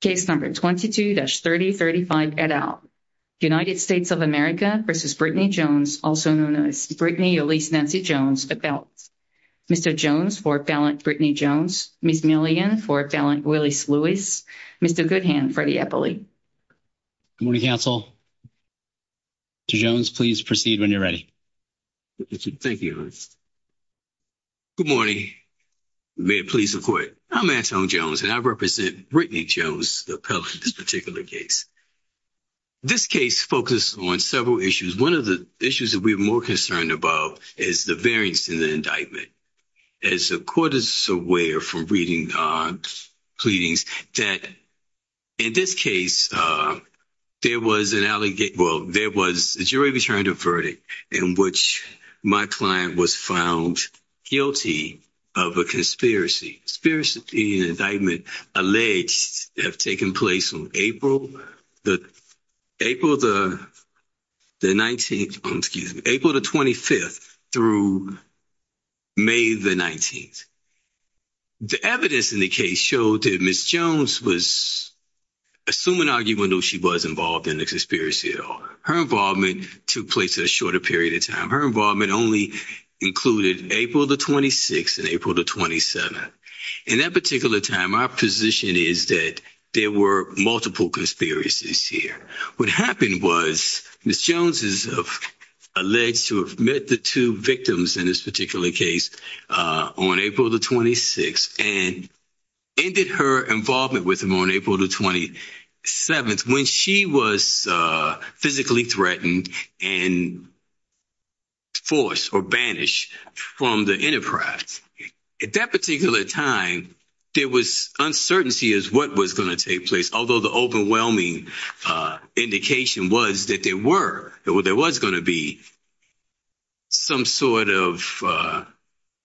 Case number 22-3035 et al. United States of America v. Brittany Jones also known as Brittany Elise Nancy Jones et al. Mr. Jones for Fallon Brittany Jones, Ms. Milligan for Fallon Willis Lewis, Mr. Goodhand for the Eppley. Good morning counsel. Mr. Jones please proceed when you're ready. Thank you. Good morning. May it please the court. I'm Axel Jones and I represent Brittany Jones, the appellate in this particular case. This case focused on several issues. One of the issues that we're more concerned about is the variance in the indictment. As the court is aware from reading our pleadings that in this case there was an allegation, well there was a jury returned a verdict in which my client was found guilty of a conspiracy. Conspiracy and indictment alleged that have taken place on April the 19th, April the 25th through May the 19th. The evidence in the case showed that Ms. Jones was assuming argument though she was involved in the conspiracy at all. Her involvement took place in a shorter period of time. Her involvement only included April the 26th and April the 27th. In that particular time my position is that there were multiple conspiracies here. What happened was Ms. Jones is alleged to have met the two victims in this particular case on April the 26th and ended her involvement with him on April the 27th when she was physically threatened and forced or banished from the enterprise. At that particular time there was uncertainty as to what was going to take place although the overwhelming indication was that there were or there was going to be some sort of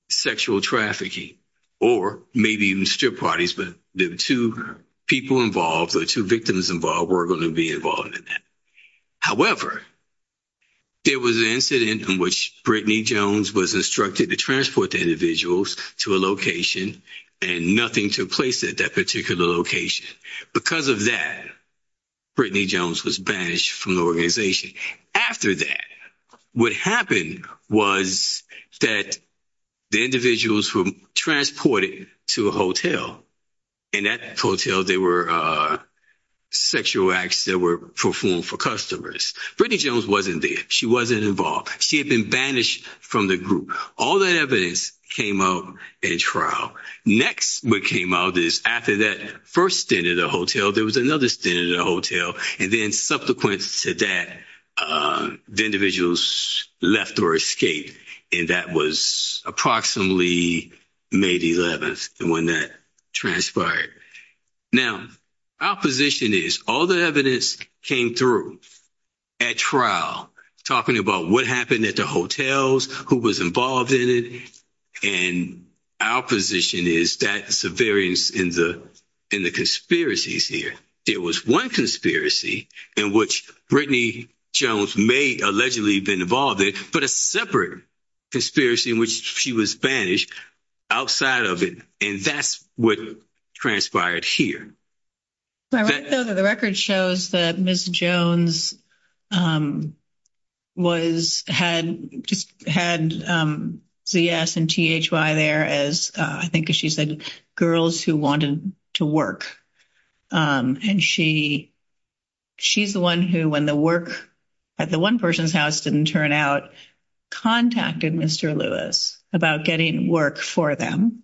sexual trafficking or maybe even strip parties but there were two people involved or two victims involved were going to be involved in that. However, it was an incident in which Brittany Jones was instructed to transport the individuals to a location and nothing took place at that particular location. Because of that Brittany Jones was banished from the organization. After that what happened was that the individuals were transported to a hotel. In that hotel there were sexual acts that were performed for customers. Brittany Jones wasn't there. She wasn't involved. She had been banished from the group. All that evidence came out in trial. Next what came out is after that first stint at a hotel there was another stint at a hotel and then subsequent to that the individuals left or escaped and that was approximately May the 11th when that transpired. Now our position is all the evidence came through at trial talking about what happened at the hotels, who was involved in it, and our position is that's the variance in the in the conspiracies here. It was one conspiracy in which Brittany Jones may allegedly been involved in but a separate conspiracy in which she was banished outside of it and that's what transpired here. The record shows that Ms. Jones was had had ZS and THY there as I think she said girls who wanted to work and she she's the one who when the work at the one person's house didn't turn out contacted Mr. Lewis about getting work for them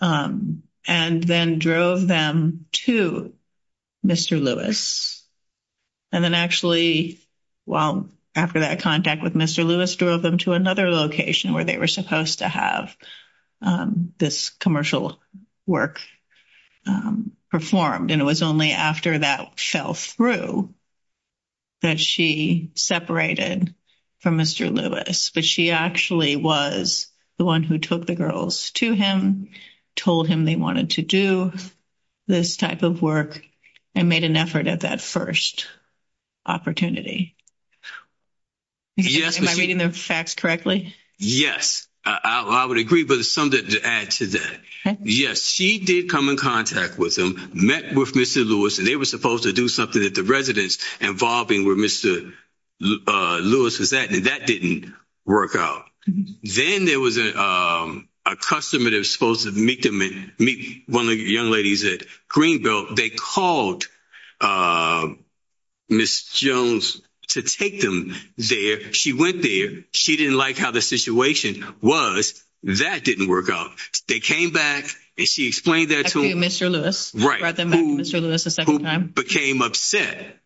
and then drove them to Mr. Lewis and then actually well after that contact with Mr. Lewis drove them to another location where they were supposed to have this commercial work performed and it was only after that fell through that she separated from Mr. Lewis but she actually was the one who took the girls to him told him they wanted to do this type of work and made an effort at that first opportunity. Am I reading the facts correctly? Yes I would agree but it's something to add to that yes she did come in contact with them met with Mr. Lewis and they were supposed to do something at the residence involving where Mr. Lewis is at and that didn't work out. Then there was a customer that was supposed to meet one of the young ladies at Greenbelt they called Ms. Jones to take them there she went there she didn't like how the situation was that didn't work out they came back and she explained that to Mr. Lewis who became upset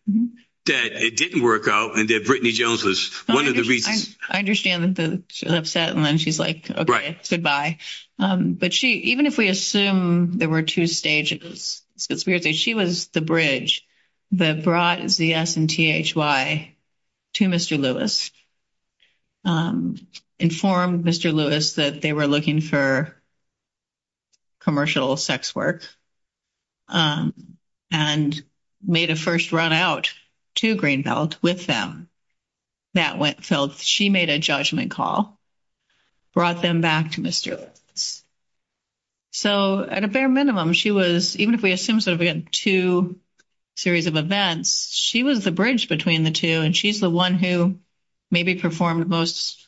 that it didn't work out and that Brittany Jones was one of the reasons. I understand that she's upset and then she's like okay goodbye but she even if we assume there were two stages it's weird that she was the bridge that brought ZS and THY to Mr. Lewis informed Mr. Lewis that they were looking for commercial sex work and made a first run out to Greenbelt with them that went so she made a judgment call brought them back to Mr. Lewis. So at a bare minimum she was even if we assume that we had two series of events she was the bridge between the two and she's the one who maybe performed most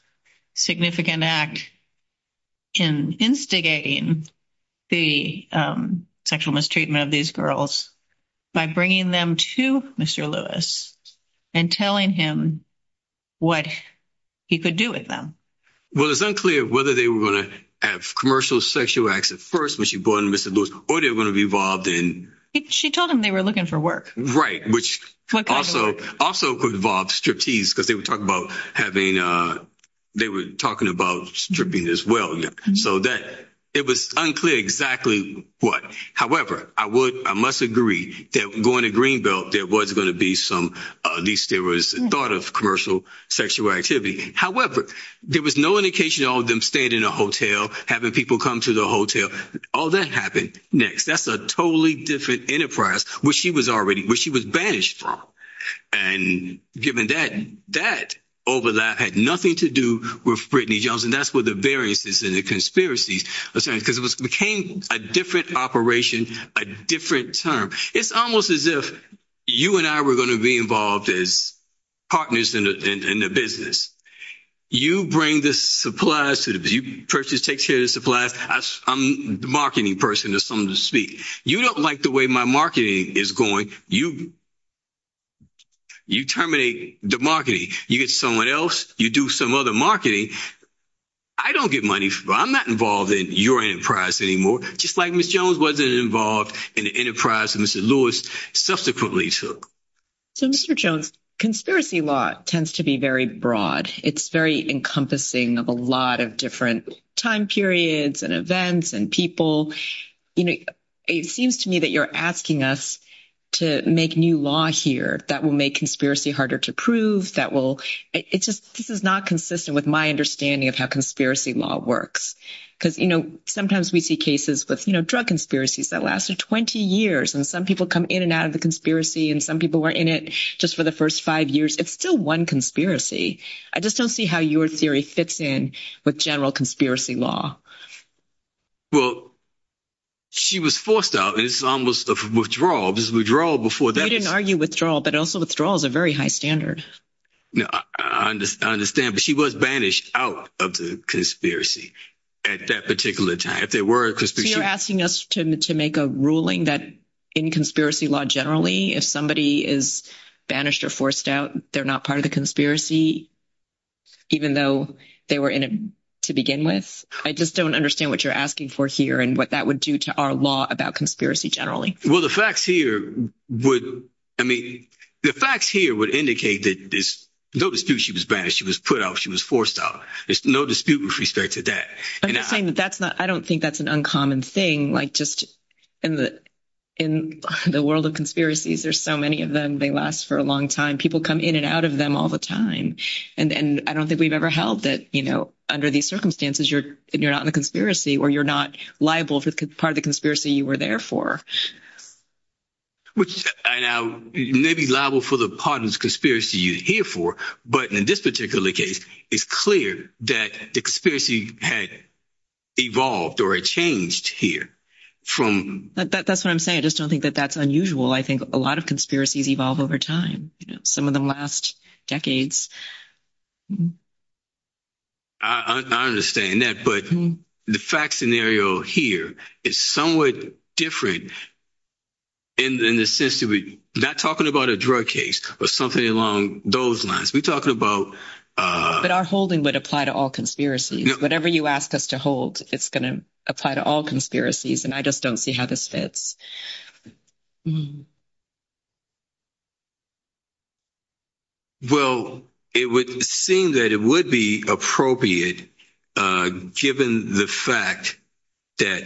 significant act in instigating the sexual mistreatment of these girls by bringing them to Mr. Lewis and telling him what he could do with them. Well it's unclear whether they were going to have commercial sexual acts at first when she brought in Mr. Lewis or they were going to be involved in she told him they were looking for work right which also also could involve striptease because they were talking about having they were talking about stripping as well so that it was unclear exactly what however I would I must agree that going to Greenbelt there was going to be some at least there was thought of commercial sexual activity however there was no indication all of them stayed in a hotel having people come to the hotel all that happened next that's a totally different enterprise where she was already where she was vanished from and given that that overlap had nothing to do with Brittany Johnson that's what the variances in the conspiracy because it was became a different operation a different term it's almost as if you and I were going to be involved as partners in the business you bring the supplies to the view person take care of supplies I'm the marketing person or something to you don't like the way my marketing is going you you terminate the marketing you get someone else you do some other marketing I don't get money from I'm not involved in your enterprise anymore just like miss Jones wasn't involved in the enterprise and mr. Lewis subsequently took so mr. Jones conspiracy law tends to be very broad it's very encompassing of a lot of different time periods and and people you know it seems to me that you're asking us to make new law here that will make conspiracy harder to prove that will it just this is not consistent with my understanding of how conspiracy law works because you know sometimes we see cases but you know drug conspiracies that lasted 20 years and some people come in and out of the conspiracy and some people were in it just for the first five years it's still one conspiracy I just don't see how your theory fits in with general conspiracy law well she was forced out it's almost a withdrawal this withdrawal before they didn't argue withdrawal but also withdrawal is a very high standard no I understand but she was banished out of the conspiracy at that particular time if there were because we're asking us to make a ruling that in conspiracy law generally if somebody is banished or out they're not part of the conspiracy even though they were in it to begin with I just don't understand what you're asking for here and what that would do to our law about conspiracy generally well the facts here would I mean the facts here would indicate that this no dispute she was banished she was put out she was forced out there's no dispute with respect to that that's not I don't think that's an uncommon thing like just in the in the world of conspiracies there's so many of them they last for a long time people come in and out of them all the time and then I don't think we've ever held that you know under these circumstances you're you're not in a conspiracy or you're not liable for the part of the conspiracy you were there for which may be liable for the partners conspiracy you here for but in this particular case it's clear that the conspiracy had evolved or a changed here from that's what I'm saying I just don't think that that's unusual I think a lot of conspiracies evolve over time some of them last decades I understand that but the fact scenario here is somewhat different in the system we not talking about a drug case or something along those lines we're talking about but our holding would apply to all conspiracies whatever you ask us to hold it's going to apply to all conspiracies and I just don't see how this fits well it would seem that it would be appropriate given the fact that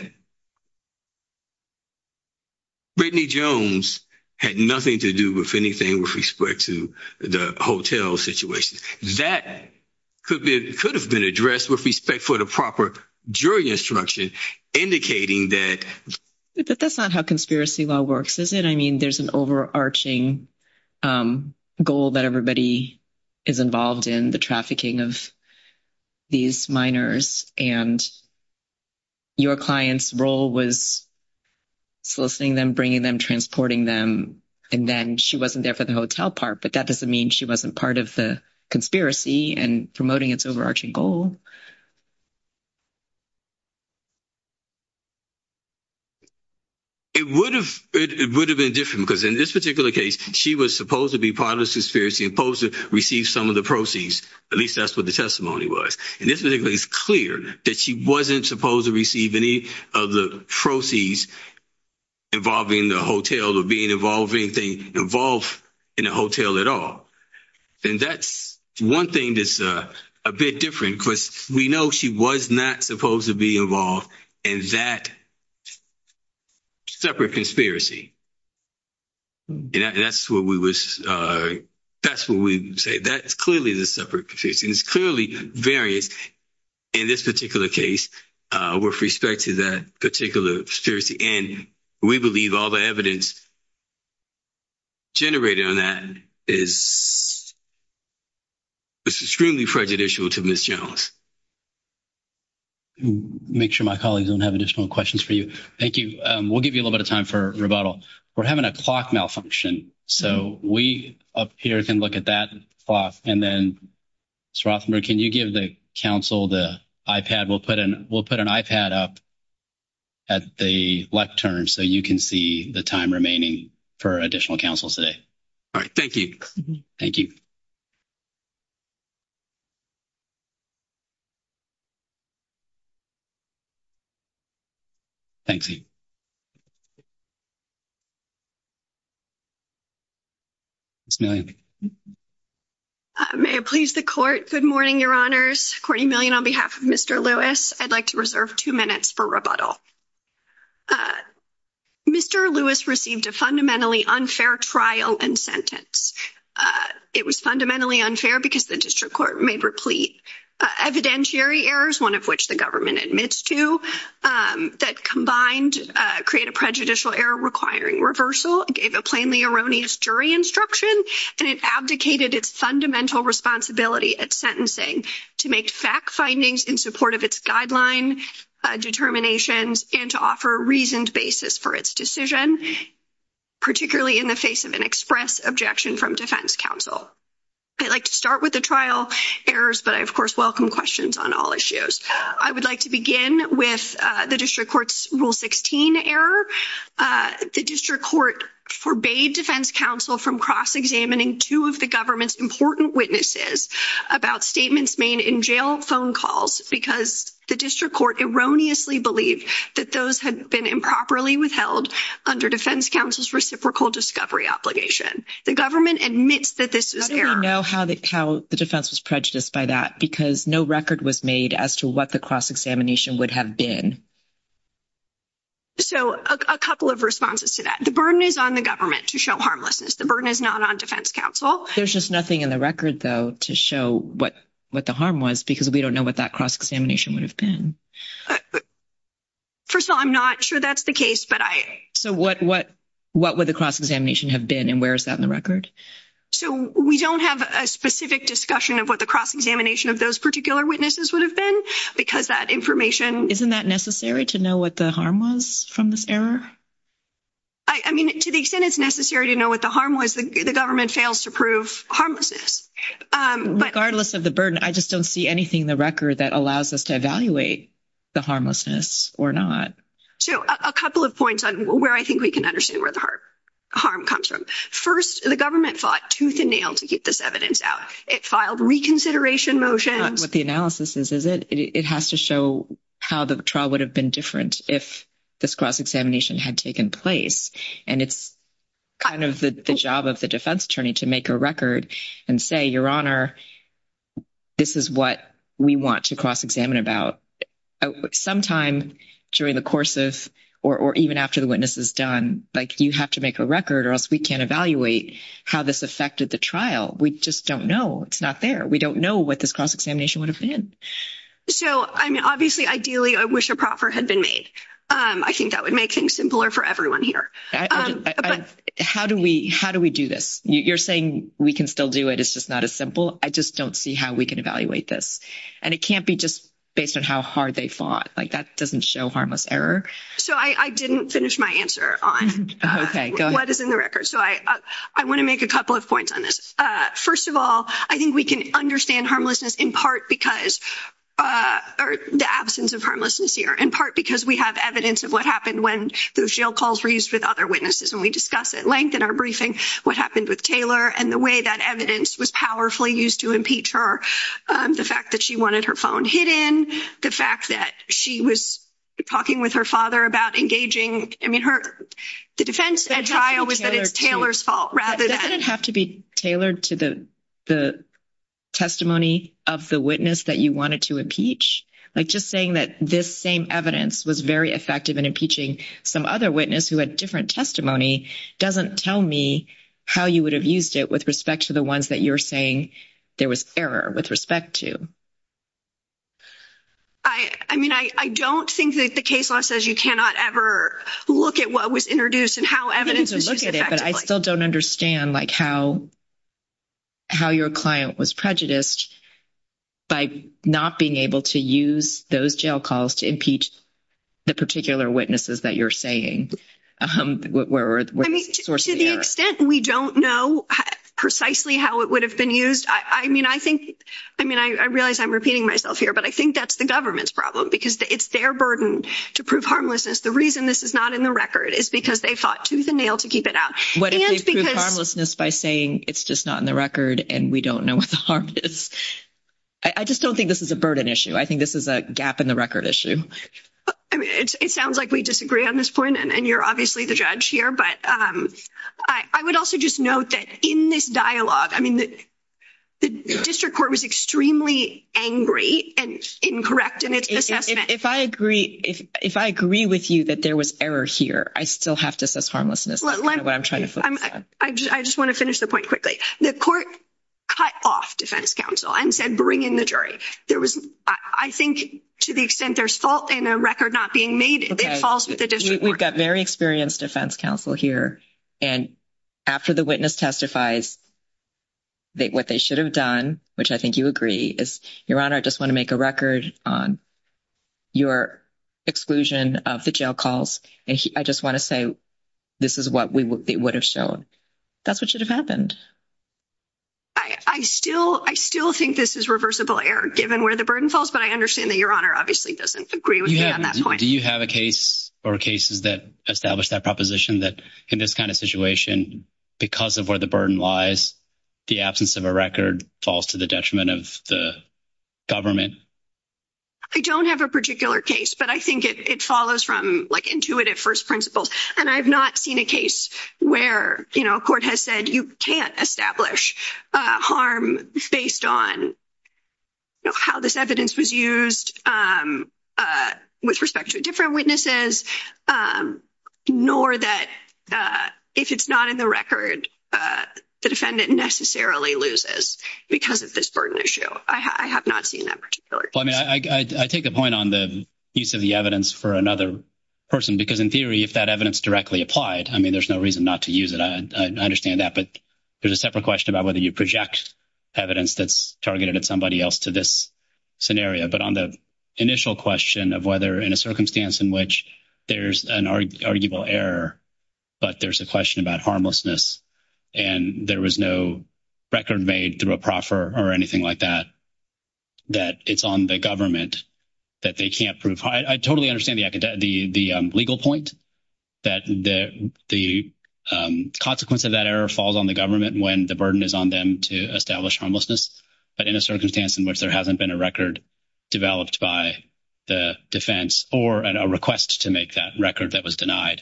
Brittany Jones had nothing to do with anything with respect to the hotel situation that could be could have been addressed with respect for the proper jury instruction indicating that that's not how conspiracy law works is it I mean there's an overarching goal that everybody is involved in the trafficking of these minors and your clients role was soliciting them bringing them transporting them and then she wasn't there for the hotel part but that doesn't mean she wasn't part of the conspiracy and promoting its overarching goal it would have it would have been different because in this particular case she was supposed to be part of the conspiracy opposed to receive some of the proceeds at least that's what the testimony was and this is a place clear that she wasn't supposed to receive any of the proceeds involving the hotel or being involved anything involved in a hotel at all and that's one thing that's a bit different because we know she was not supposed to be involved in that separate conspiracy that's what we wish that's what we say that's clearly the separate proficiency is clearly various in this particular case with respect to that particular stirs the end we believe all the evidence generated on that is it's extremely prejudicial to miss Jones make sure my colleagues don't have additional questions for you thank you we'll give you a little bit of time for rebuttal we're having a clock malfunction so we up here can look at that clock and then Srothmore can you give the council the iPad we'll put in we'll put an iPad up at the left turn so you can see the time remaining for additional council say all right thank you thank you thank you it's not may please the court good morning your honors 40 million on behalf mr. Lewis I'd like to reserve two minutes for rebuttal mr. Lewis received a fundamentally unfair trial and sentence it was fundamentally unfair because the district court may replete evidentiary errors one of which the government admits to that combined create a prejudicial error requiring reversal gave a plainly erroneous jury instruction and it abdicated its responsibility at sentencing to make fact findings in support of its guideline determinations and to offer a reasoned basis for its decision particularly in the face of an express objection from defense counsel I'd like to start with the trial errors but I of course welcome questions on all issues I would like to begin with the district courts rule 16 error the district court forbade defense counsel from cross-examining two of the government's important witnesses about statements made in jail phone calls because the district court erroneously believed that those had been improperly withheld under defense counsel's reciprocal discovery obligation the government admits that this is there I know how they tell the defense was prejudiced by that because no record was made as to what the cross-examination would have been so a government to show harmlessness the burden is not on defense counsel there's just nothing in the record though to show what what the harm was because we don't know what that cross-examination would have been first of all I'm not sure that's the case but I so what what what would the cross-examination have been and where is that in the record so we don't have a specific discussion of what the cross-examination of those particular witnesses would have been because that information isn't that necessary to know what the harm was from this error I mean to the extent it's necessary to know what the harm was the government fails to prove harmless regardless of the burden I just don't see anything the record that allows us to evaluate the harmlessness or not so a couple of points on where I think we can understand where the heart harm comes from first the government fought tooth and nail to get this evidence out it filed reconsideration motion what the analysis is is it it has to show how the trial would have been different if this cross-examination had taken place and it's kind of the job of the defense attorney to make a record and say your honor this is what we want to cross-examine about sometimes during the courses or even after the witness is done like you have to make a record or else we can't evaluate how this affected the trial we just don't know it's not fair we don't know what this cross-examination would have been so I'm ideally I wish a proper had been made I think that would make him simpler for everyone here how do we how do we do this you're saying we can still do it it's just not as simple I just don't see how we can evaluate this and it can't be just based on how hard they fought like that doesn't show harmless error so I didn't finish my answer on okay I want to make a couple of points on this first of all I think we can understand harmlessness in part because the absence of harmlessness here in part because we have evidence of what happened when those jail calls were used with other witnesses and we discuss it lengthen our briefing what happened with Taylor and the way that evidence was powerfully used to impeach her the fact that she wanted her phone hidden the fact that she was talking with her father about engaging I mean her the defense and I always Taylor's fault rather than have to be tailored to the the testimony of the witness that you wanted to impeach like just saying that this same evidence was very effective in impeaching some other witness who had different testimony doesn't tell me how you would have used it with respect to the ones that you were saying there was error with respect to I I mean I don't think that the case law says you cannot ever look at what was introduced and how evidence I still don't understand like how how your client was prejudiced by not being able to use those jail calls to impeach the particular witnesses that you're saying we don't know precisely how it would have been used I mean I think I mean I realize I'm repeating myself here but I think that's the problem because it's their burden to prove harmlessness the reason this is not in the record is because they fought tooth and nail to keep it out by saying it's just not in the record and we don't know what the harm I just don't think this is a burden issue I think this is a gap in the record issue it sounds like we disagree on this point and you're obviously the judge here but I would also just note that in this dialogue I mean that the district court was extremely angry and incorrect and if I agree if I agree with you that there was error here I still have to assess harmlessness I just want to finish the point quickly the court cut off defense counsel and said bring in the jury there was I think to the extent there's fault in a record not being made we've got very experienced defense counsel here and after the witness testifies that what they should have done which I think you agree is your honor I just want to make a record on your exclusion of the jail calls and I just want to say this is what we would have shown that's what should have happened I still I still think this is reversible error given where the burden falls but I understand that your honor obviously doesn't agree with me at that point do you have a case or cases that establish that proposition that in this kind of because of where the burden lies the absence of a record falls to the detriment of the government I don't have a particular case but I think it follows from like intuitive first principles and I've not seen a case where you know court has said you can't establish harm based on how this evidence was used with respect to different witnesses nor that if it's not in the record the defendant necessarily loses because of this burden issue I have not seen that particular I mean I take a point on the piece of the evidence for another person because in theory if that evidence directly applied I mean there's no reason not to use it I understand that but there's a separate question about whether you project evidence that's targeted at somebody else to this scenario but on the initial question of whether in a circumstance in which there's an arguable error but there's a question about harmlessness and there was no record made through a proffer or anything like that that it's on the government that they can't prove I totally understand the legal point that the consequence of that error falls on the government when the burden is on them to establish homelessness but in a circumstance in which there hasn't been a record developed by the defense or a request to make that record that was denied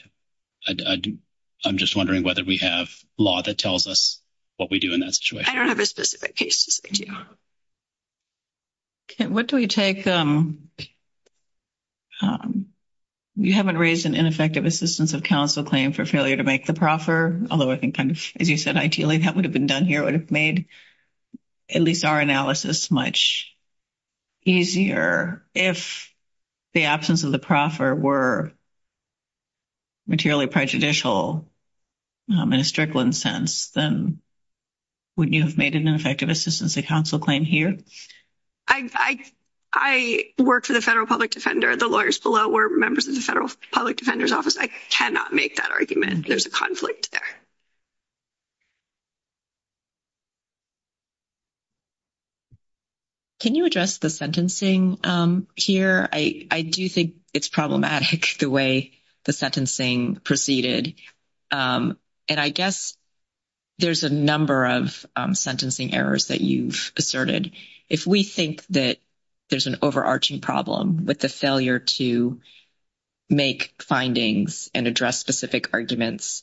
I'm just wondering whether we have law that tells us what we do in that situation what do we take them you haven't raised an ineffective assistance of counsel claim for failure to make the proffer although I think kind of as you said ideally that would have been done here would have made at least our analysis much easier if the absence of the proffer were materially prejudicial I'm in a strickland sense then would you have made an effective assistance a council claim here I I work for the Federal Public Defender the lawyers below were members of the Federal Public Defender's Office I cannot make that argument there's a conflict can you address the sentencing here I do think it's problematic the way the sentencing proceeded and I guess there's a number of sentencing errors that you've asserted if we think that there's an overarching problem with the failure to make findings and address specific arguments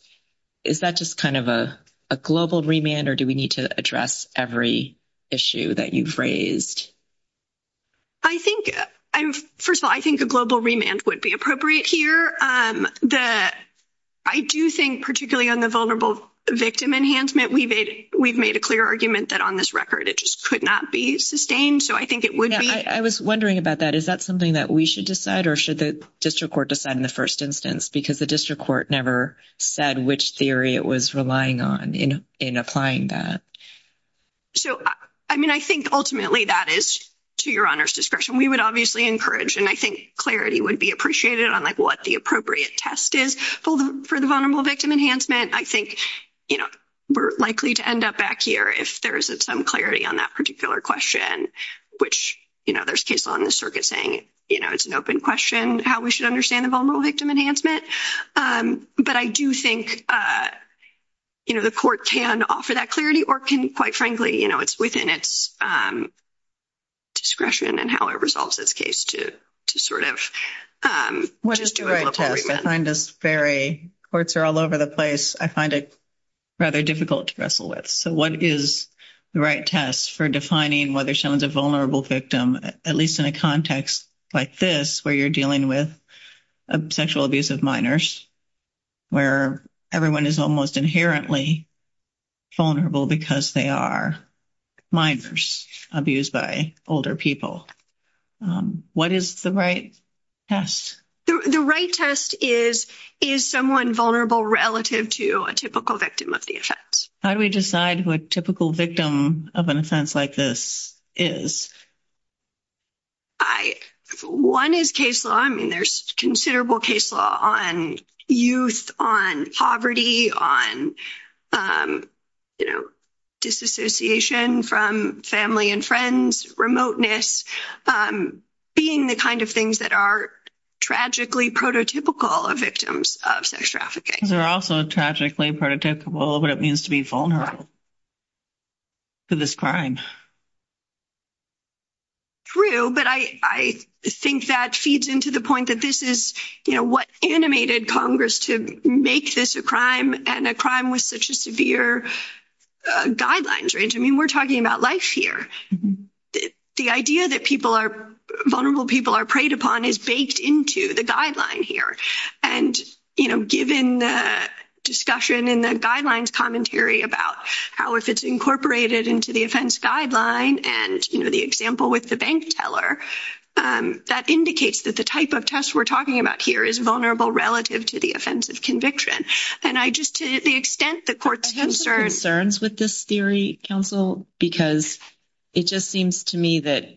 is that just kind of a global remand or do we need to address every issue that you've raised I think I'm first of all I think the global remand would be appropriate here that I do think particularly on the vulnerable victim enhancement we did we've made a clear argument that on this record it just could not be sustained so I think it would I was wondering about that is that something that we should decide or should the district court decide in the first instance because the district court never said which theory it was relying on you know in applying that so I mean I think ultimately that is to your honors discretion we would obviously encourage and I think clarity would be appreciated on like what the appropriate test is for the vulnerable victim enhancement I think you know we're likely to end up back here if there isn't some clarity on that particular question which you know there's people on the circuit saying you know it's an open question how we should understand a vulnerable victim enhancement but I do think you know the court can offer that clarity or can quite frankly you know it's within its discretion and how it resolves this case to sort of what is doing this very courts are all over the place I find it rather difficult to wrestle with so what is the right test for defining whether she was a vulnerable victim at least in context like this where you're dealing with a sexual abuse of minors where everyone is almost inherently vulnerable because they are minors abused by older people what is the right yes the right test is is someone vulnerable relative to a typical victim of the effects how do we decide what typical victim of an offense like this is I one is case law I mean there's considerable case law on youth on poverty on you know disassociation from family and friends remoteness being the kind of things that are tragically prototypical of victims of sex trafficking they're also tragically prototypical what it means to be vulnerable for this crime true but I think that feeds into the point that this is you know what animated Congress to make this a crime and a crime was such a severe guidelines range I mean we're talking about life here the idea that people are vulnerable people are preyed upon is baked into the guideline here and you know given the discussion in the guidelines commentary about how if it's incorporated into the offense guideline and you know the example with the bank teller that indicates that the type of test we're talking about here is vulnerable relative to the offensive conviction and I just to the extent the court concerns with this theory counsel because it just seems to me that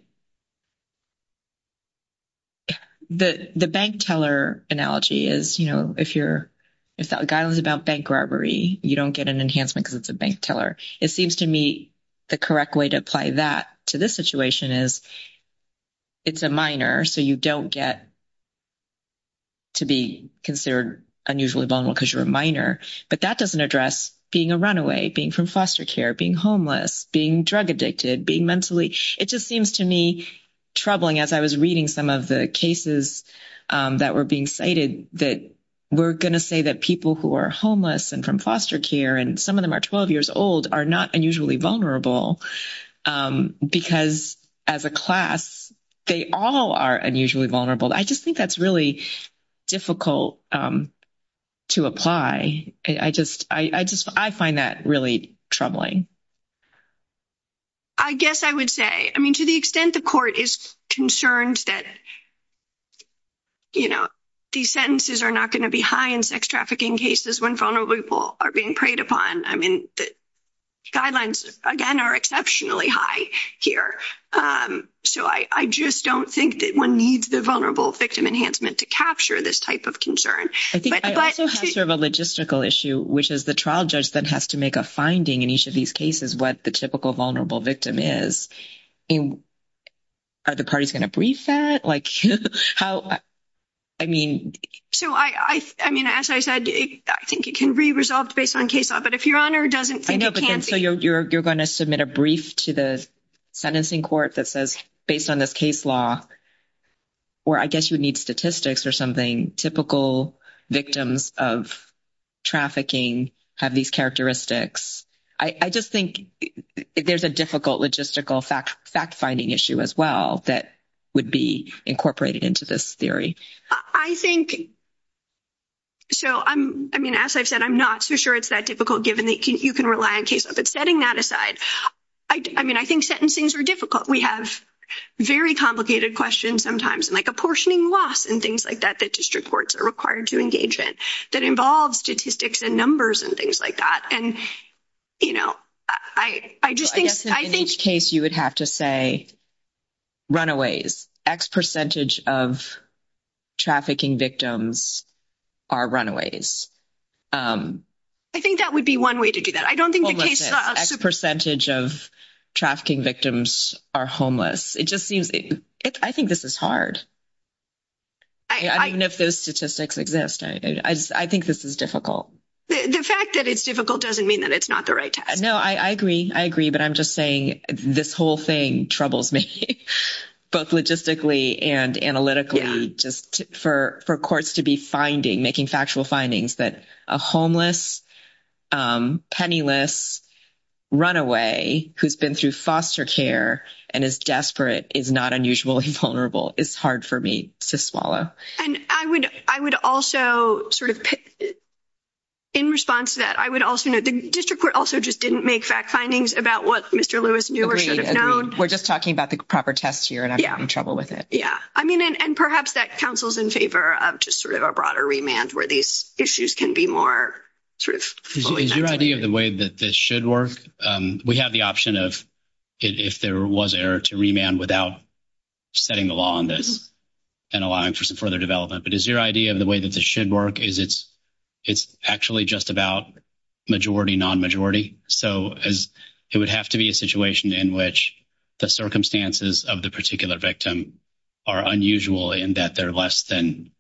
the bank teller analogy is you know if you're if that guy was about bank robbery you don't get an enhancement because it's a bank teller it seems to me the correct way to apply that to this situation is it's a minor so you don't get to be considered unusually vulnerable because you're a minor but that doesn't address being a runaway being from foster care being homeless being drug addicted being mentally it just seems to me troubling as I was reading some of the cases that were being cited that we're going to say that people who are homeless and from foster care and some of them are 12 years old are not unusually vulnerable because as a class they all are unusually vulnerable I just think that's really difficult to apply I just I just I find that really troubling I guess I would say I mean to the extent the court is concerned that you know these sentences are not going to be high in sex trafficking cases when vulnerable people are being preyed upon I mean the guidelines again are exceptionally high here so I just don't think that one needs the vulnerable victim enhancement to capture this type of concern I think I serve a logistical issue which is the trial judge that has to make a finding in each of these cases what the typical vulnerable victim is in are the parties going to brief that like I mean so I I mean as I said I think it can be resolved based on case law but if your honor doesn't I know so you're going to submit a brief to the sentencing court that says based on this case law or I guess you need statistics or something typical victims of trafficking have these characteristics I just think there's a difficult logistical fact fact-finding issue as well that would be incorporated into this theory I think so I'm I mean as I've said I'm not so sure it's that difficult given that you can rely on cases but setting that aside I mean I think sentencing's are difficult we have very complicated questions sometimes like apportioning loss and things like that that district courts are required to engagement that involves statistics and numbers and things like that and you know I I just think I think case you would have to say runaways X percentage of trafficking victims are runaways I think that would be one way to do that I don't think a percentage of trafficking victims are homeless it just seems it I think this is hard I mean if those statistics exist I think this is difficult the fact that it's difficult doesn't mean that it's not the right time no I agree I agree but I'm just saying this whole thing troubles me both logistically and analytically just for for courts to be finding making factual findings that a homeless penniless runaway who's been through foster care and is desperate is not unusual he's it's hard for me to swallow and I would I would also sort of in response to that I would also know the district court also just didn't make fact findings about what mr. Lewis we're just talking about the proper test here and I'm in trouble with it yeah I mean and perhaps that counsels in favor of just sort of a broader remand where these issues can be more truth is your idea of the way that this should work we have the option of if there was error to remand without setting the law on this and allowing for some further development but is your idea of the way that this should work is it's it's actually just about majority non-majority so as it would have to be a situation in which the circumstances of the particular victim are unusual in that they're less than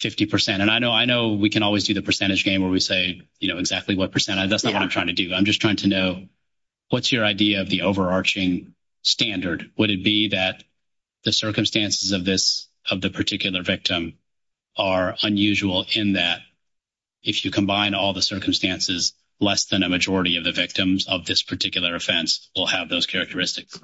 50% and I know I know we can always do the percentage game where we say you know exactly what percent I that's not what I'm trying to do I'm just trying to know what's your of the overarching standard would it be that the circumstances of this of the particular victim are unusual in that if you combine all the circumstances less than a majority of the victims of this particular offense will have those characteristics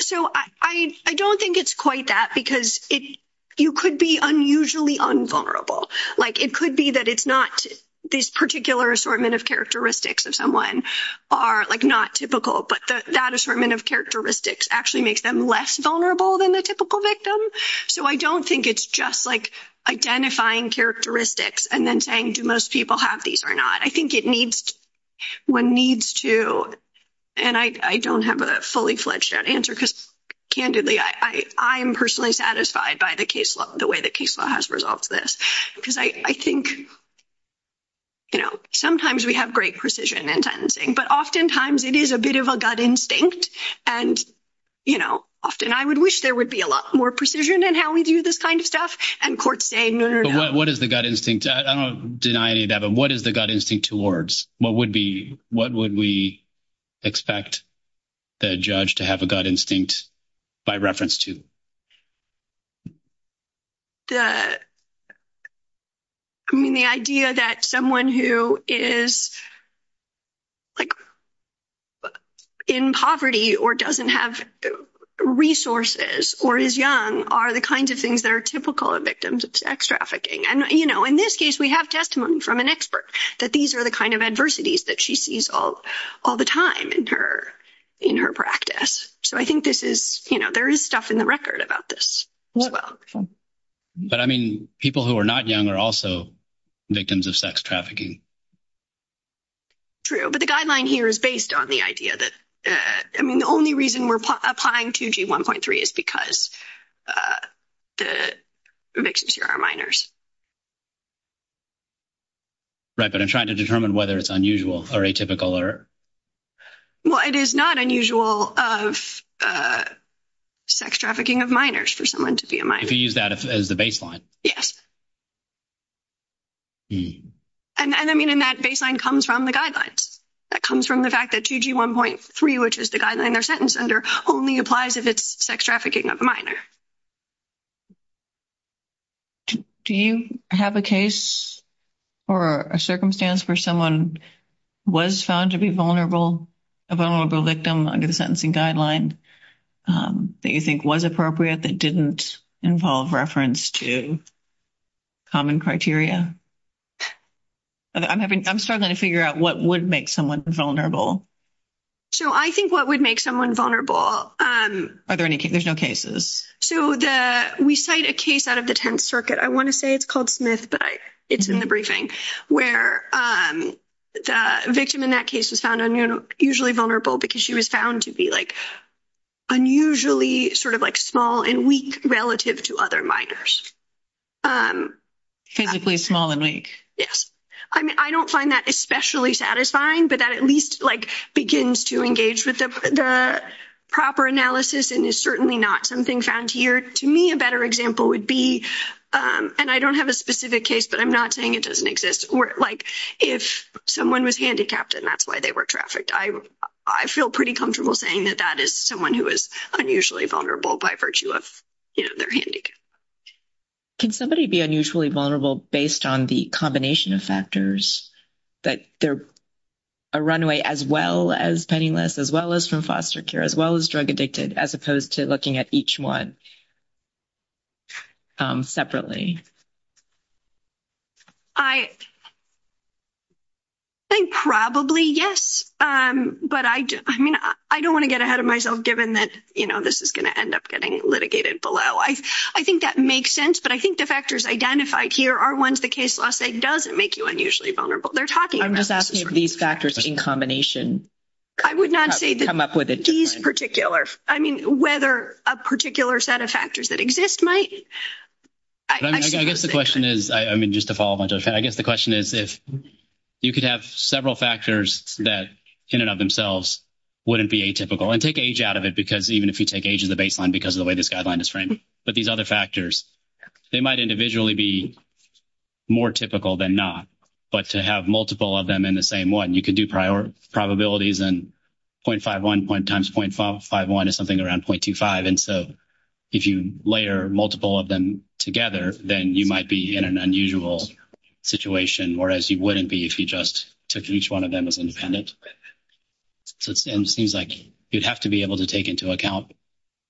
so I don't think it's quite that because if you could be unusually unvulnerable like it could be that it's not this particular assortment of characteristics of someone are like not typical but that assortment of characteristics actually makes them less vulnerable than the typical victim so I don't think it's just like identifying characteristics and then saying to most people have these or not I think it needs one needs to and I don't have a fully fledged answer because candidly I I'm personally satisfied by the case the way that case law has resolved this because I think you know sometimes we have great precision and sentencing but oftentimes it is a bit of a gut instinct and you know often I would wish there would be a lot more precision and how we do this kind of stuff and court saying what is the gut instinct deny it Evan what is the gut instinct towards what would be what would we expect the judge to have a gut instinct by reference to the I mean the idea that someone who is like in poverty or doesn't have resources or is young are the kinds of things that are typical of victims of sex trafficking and you know in this case we have testimony from an expert that these are the kind of adversities that she sees all all the time in her in her practice so I think this is you know there is stuff in the record about this well but I mean people who are not young are also victims of sex trafficking true but the guideline here is based on the idea that I mean the only reason we're applying 2g 1.3 is because the mixes your our minors right but I'm trying to determine whether it's unusual or atypical or well it is not unusual of sex trafficking of minors for someone to be a minor if you use that as the baseline yes and I mean in that baseline comes from the guidelines that comes from the fact that 2g 1.3 which is the guideline or sentence under only applies if it's sex trafficking of minor do you have a case or a circumstance for someone was found to be vulnerable a vulnerable victim under the sentencing guideline that you think was appropriate that didn't involve reference to common criteria I'm having I'm starting to figure out what would make someone vulnerable so I think what would make someone vulnerable are there any conditional cases so we cite a case out of the Tenth Circuit I want to say it's called Smith but it's in the briefing where the victim in that case is found on you know usually vulnerable because she was found to be like unusually sort of like small and weak relative to other minors physically small and weak yes I mean I don't find that especially satisfying but that at least like begins to engage with the proper analysis and is certainly not something found here to me a better example would be and I don't have a specific case but I'm not saying it doesn't exist or like if someone was handicapped and that's why they were trafficked I I feel pretty comfortable saying that that is someone who is unusually vulnerable by virtue of their handicap can somebody be unusually vulnerable based on the combination of factors that they're a runaway as well as penniless as well as from foster care as well as drug addicted as opposed to looking at each one separately I think probably yes but I do I don't want to get ahead of myself given that you know this is gonna end up getting litigated below I I think that makes sense but I think the factors identified here are ones the case law say doesn't make you unusually vulnerable they're talking I'm just asking if these factors in combination I would not say that I'm up with it in particular I mean whether a particular set of factors that exist might I guess the question is I mean just a follow-up I guess the question is if you could have several factors that in and of themselves wouldn't be a typical and take age out of it because even if you take age of the baseline because of the way this guideline is framed but these other factors they might individually be more typical than not but to have multiple of them in the same one you can do prior probabilities and 0.51 point times 0.51 is something around 0.25 and so if you layer multiple of them together then you might be in an unusual situation or as you wouldn't be if you just took each one of them as it seems like you'd have to be able to take into account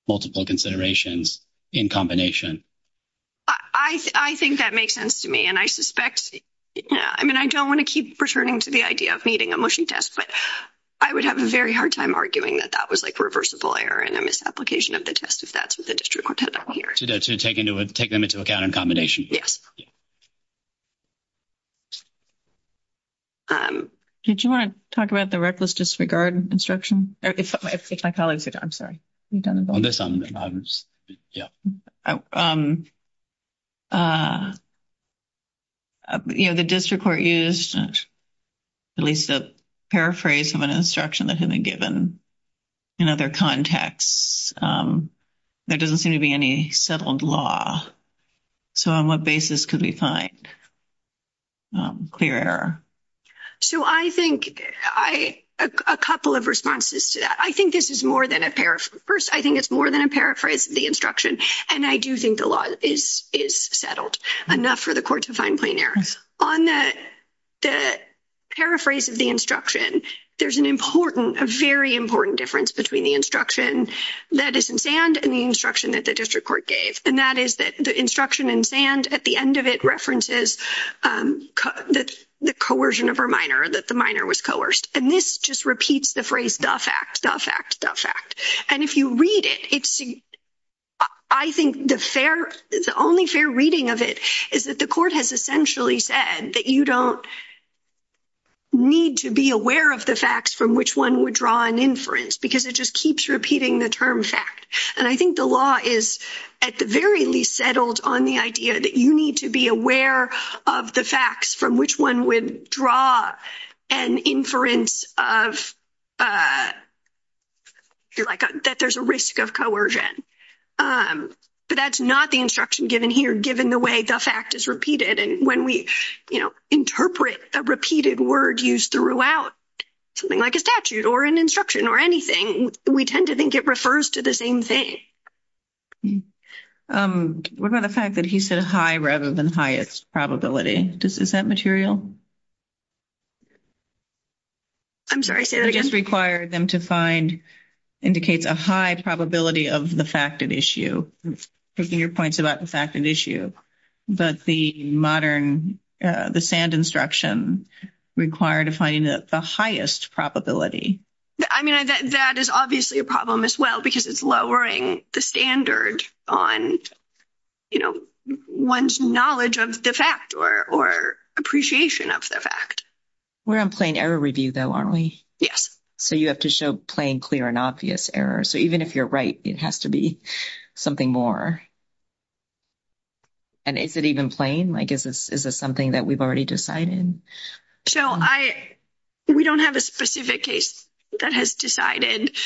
multiple considerations in combination I think that makes sense to me and I suspect yeah I mean I don't want to keep returning to the idea of meeting a motion test but I would have a very hard time arguing that that was like reversible error and the misapplication of the test if that's what the district wanted to take into account in combination did you want to talk about the reckless disregard instruction if my colleagues are done sorry yeah you know the district court used at least a paraphrase of an instruction that had been given in their context there doesn't seem to be any settled law so on what basis could we find clear so I think I a couple of responses to that I think this is more than a pair of first I think it's more than a paraphrase the instruction and I do think the law is is settled enough for the court to find clean air on that the paraphrase of the instruction there's an important a very important difference between the instruction that is in sand and the instruction that the district court gave and that is that the instruction in sand at the end of it references that's the coercion of her minor that the minor was coerced and this just repeats the phrase tough act tough act tough act and if you read it it's I think the fair is the only fair reading of it is that the court has essentially said that you don't need to be aware of the facts from which one would draw an inference because it just keeps repeating the term fact and I think the law is at the very least settled on the idea that you need to be aware of the facts from which one would draw an inference of you're like that there's a risk of coercion but that's not the instruction given here given the way the fact is repeated and when we you know interpret a repeated word used throughout something like a statute or an instruction or anything we tend to think it refers to the same thing we're going to fact that he said high rather than highest probability this is that material I'm sorry I guess required them to find indicates a high probability of the fact of issue taking your points about the fact of issue but the modern the sand instruction required to find the highest probability I mean that is obviously a problem as well because it's lowering the standard on you know one's knowledge of the fact or or appreciation of the fact we're in plain error review though aren't we yes so you have to show plain clear and obvious error so even if you're right it has to be something more and if it even plain like is this is this something that we've already decided so I we don't have a specific case that has decided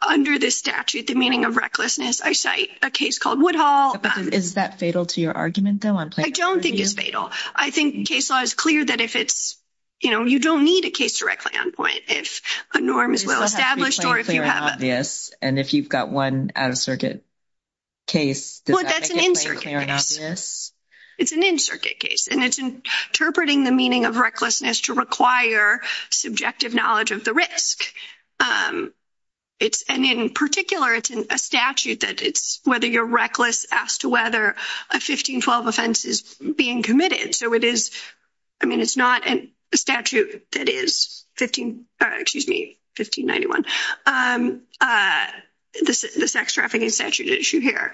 under this statute the meaning of recklessness I cite a case called Woodhull is that fatal to your argument though I don't think it's fatal I think case law is clear that if it's you know you don't need a case directly on point if enormous yes and if you've got one out-of-circuit case it's an in circuit case and it's interpreting the meaning of recklessness to require subjective knowledge of the risk it's and in particular it's in a statute that it's whether you're reckless as to whether a 1512 offense is being committed so it is I mean it's not a statute that is 15 excuse me 1591 the sex trafficking statute issue here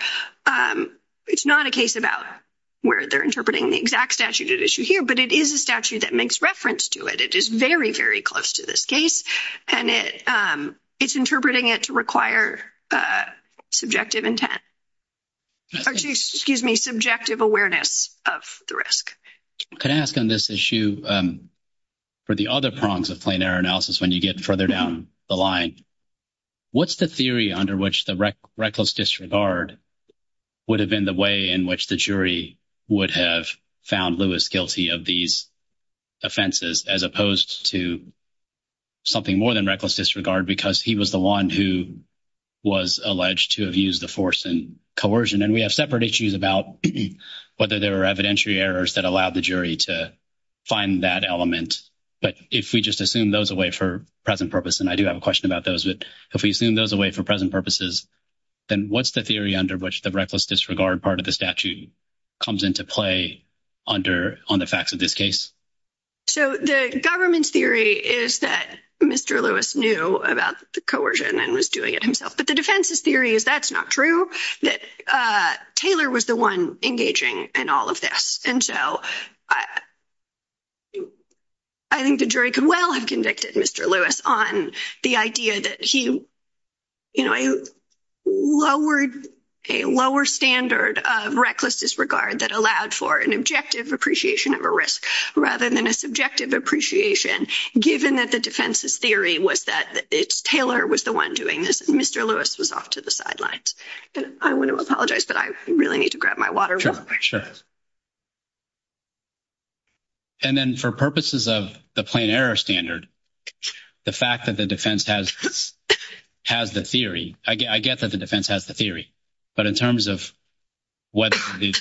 it's not a case about where they're interpreting the exact statute at issue here but it is a statute that makes reference to it it is very very close to this case and it it's interpreting it to require subjective intent excuse me subjective awareness of the risk can ask on this issue for the other prongs of planar analysis when you get further down the line what's the theory under which the reckless disregard would have been the way in which the jury would have found Lewis guilty of these offenses as opposed to something more than reckless disregard because he was the one who was alleged to have used the force and coercion and we have separate issues about whether there are evidentiary errors that allowed the jury to find that element but if we just assume those away for present purpose and I do have a question about those that if we assume those away for present purposes then what's the theory under which the reckless disregard part of the statute comes into play under on the facts of this case so the government's theory is that mr. Lewis knew about the coercion and was doing it himself but the defense's theory is that's not true that Taylor was the one engaging and all of this and so I think the jury can well have convicted mr. Lewis on the idea that he you know I lowered a lower standard of reckless disregard that allowed for an objective appreciation of a risk rather than a subjective appreciation given that the defense's theory was that it's Taylor was the one doing this mr. Lewis was off to the and then for purposes of the plain error standard the fact that the defense has has the theory I get that the defense has the theory but in terms of whether the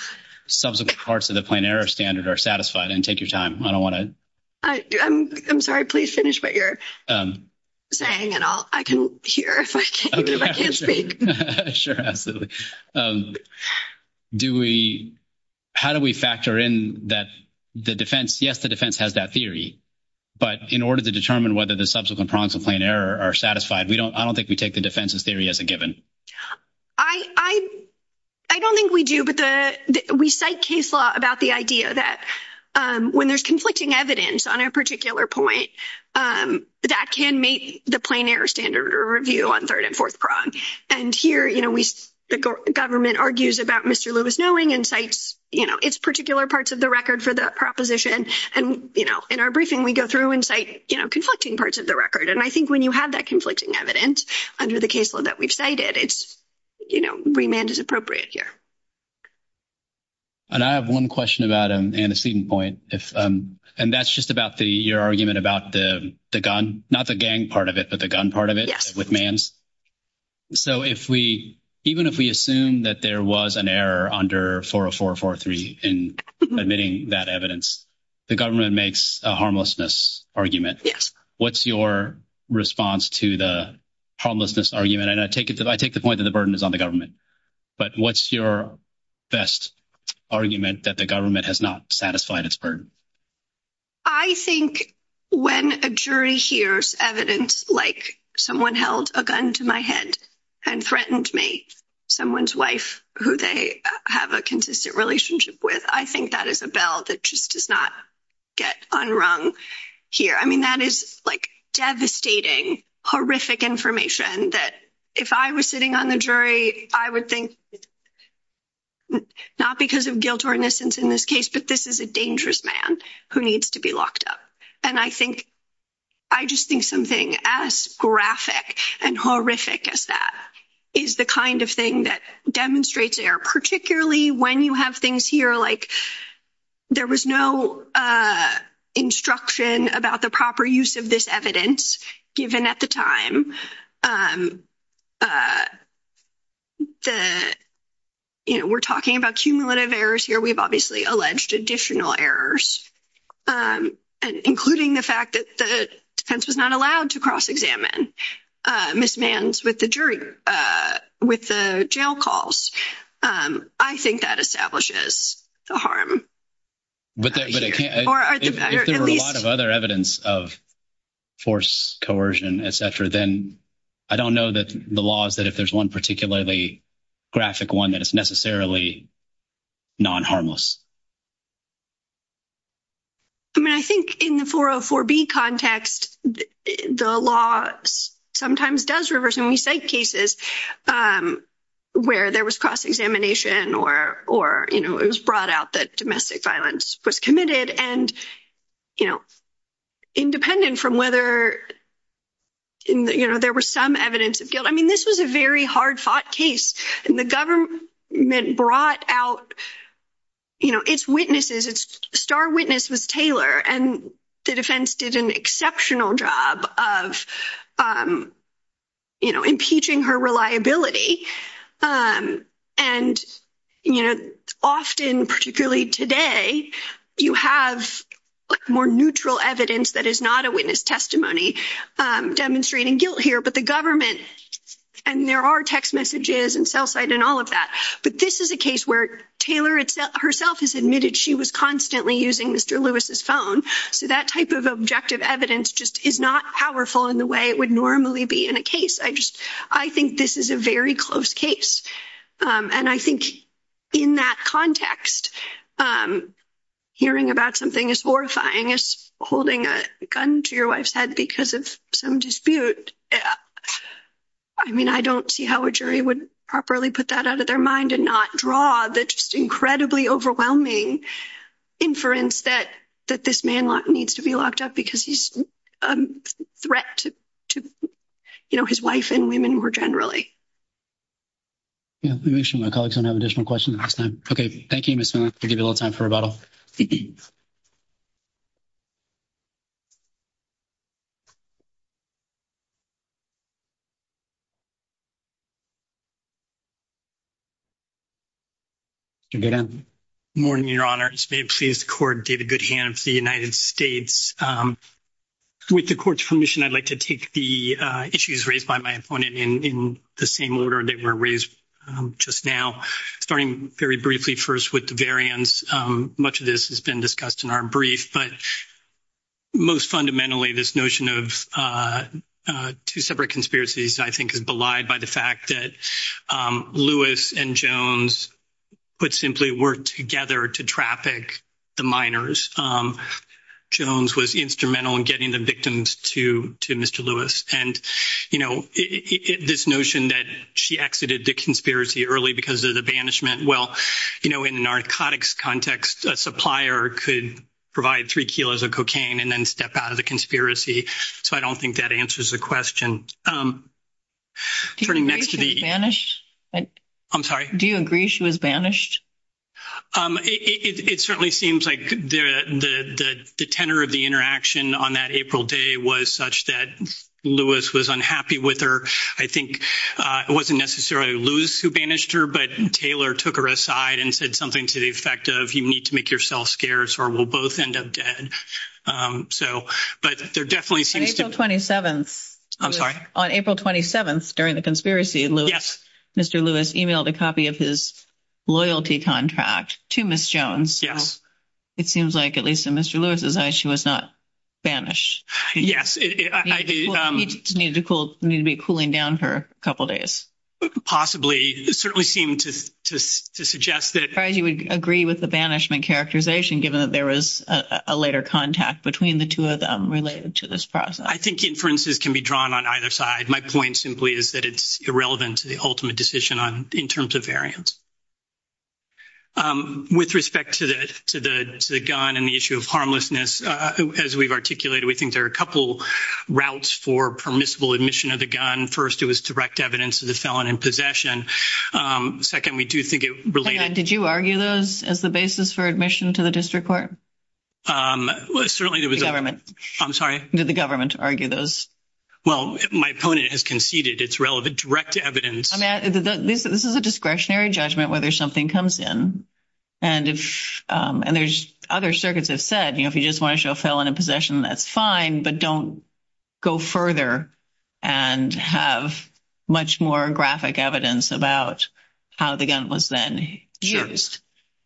subsequent parts of the plain error standard are satisfied and take your time I don't want to I'm sorry please finish what you're saying and I can hear how do we factor in that the defense yes the defense has that theory but in order to determine whether the subsequent prompts a plain error are satisfied we don't I don't think we take the defense's theory as a given I I don't think we do but the we cite case law about the idea that when there's evidence on a particular point that can make the plain error standard or review on third and fourth prong and here you know we the government argues about mr. Lewis knowing insights you know it's particular parts of the record for the proposition and you know in our briefing we go through insight you know conflicting parts of the record and I think when you have that conflicting evidence under the case law that we've cited it's you know remand is appropriate here and I have one question about an antecedent point if and that's just about the your argument about the gun not the gang part of it but the gun part of it with man's so if we even if we assume that there was an error under 40443 in admitting that evidence the government makes a harmlessness argument yes what's your response to the homelessness argument and I take it that I think the point of the burden is on the government but what's your best argument that the government has not satisfied its burden I think when a jury hears evidence like someone held a gun to my head and threatened me someone's wife who they have a consistent relationship with I think that is a bell that just does not get unrung here I mean that is like devastating horrific information that if I was sitting on a jury I would think not because of guilt or innocence in this case but this is a dangerous man who needs to be locked up and I think I just think something as graphic and horrific as that is the kind of thing that demonstrates error particularly when you have things here like there was no instruction about the proper use of this evidence given at the time the you know we're talking about cumulative errors here we've obviously alleged additional errors and including the fact that the defense is not allowed to cross-examine misman's with the jury with the jail calls I think that establishes the harm but there are a lot of other evidence of force coercion etc then I don't know that the law is that if there's one particularly graphic one that is necessarily non-harmless I mean I think in the 404 B context the law sometimes does reverse and we say cases where there was cross-examination or or you know it was brought out that domestic violence was committed and you know independent from whether you know there were some evidence of guilt I mean this was a very hard-fought case and the government brought out you know its witnesses its star witness was Taylor and the defense did an exceptional job of you know impeaching her reliability and you know often particularly today you have more neutral evidence that is not a witness testimony demonstrating guilt here but the government and there are text messages and cell site and all of that but this is a case where Taylor itself herself has admitted she was constantly using mr. Lewis's phone so that type of objective evidence just is not powerful in the way it would normally be in a case I just I think this is a very close case and I think in that context hearing about something as horrifying as holding a gun to your wife's head because of some dispute yeah I mean I don't see how a jury would properly put that out of their mind and not draw the just incredibly overwhelming inference that that this man lock needs to be locked up because threat to you know his wife and women were generally additional questions okay thank you miss a little time for a bottle morning your honor please the court gave a good hand to the United States with the court's permission I'd like to take the issues raised by my opponent in the same order that were raised just now starting very briefly first with the variants much of this has been discussed in our brief but most fundamentally this notion of two separate conspiracies I think is belied by the fact that Lewis and Jones would simply work together to traffic the miners Jones was instrumental in getting the victims to to mr. Lewis and you know this notion that she exited the conspiracy early because of the banishment well you know in a narcotics context a supplier could provide three kilos of cocaine and then step out of the conspiracy so I don't think that answers the question pretty much to be banished I'm sorry do you agree she was banished it certainly seems like the the tenor of the interaction on that April day was such that Lewis was unhappy with her I think it wasn't necessarily lose who banished her but Taylor took her aside and said something to the effect of you need to make yourself scarce or we'll both end up dead so but they're definitely 27 I'm sorry on April 27th during the conspiracy of Lewis mr. Lewis emailed a copy of his loyalty contract to miss Jones yes it seems like at least in mr. Lewis's eyes she was not banished yes need to cool need to be cooling down for a couple days possibly certainly seemed to suggest that you would agree with the banishment characterization given that there was a later contact between the two of them related to this process I think inferences can be drawn on either side my point simply is that it's irrelevant to the ultimate decision on in terms of variance with respect to this to the gun and the issue of harmlessness as we've articulated we think there are a couple routes for permissible admission of the gun first it was direct evidence of the felon in possession second we do think it related did you argue those as the basis for admission to the district court I'm sorry did the government argue those well my opponent has conceded it's relevant direct evidence this is a discretionary judgment whether something comes in and if and there's other circuits have said you know if you just want to show fill in a possession that's fine but don't go further and have much more graphic evidence about how the gun was then used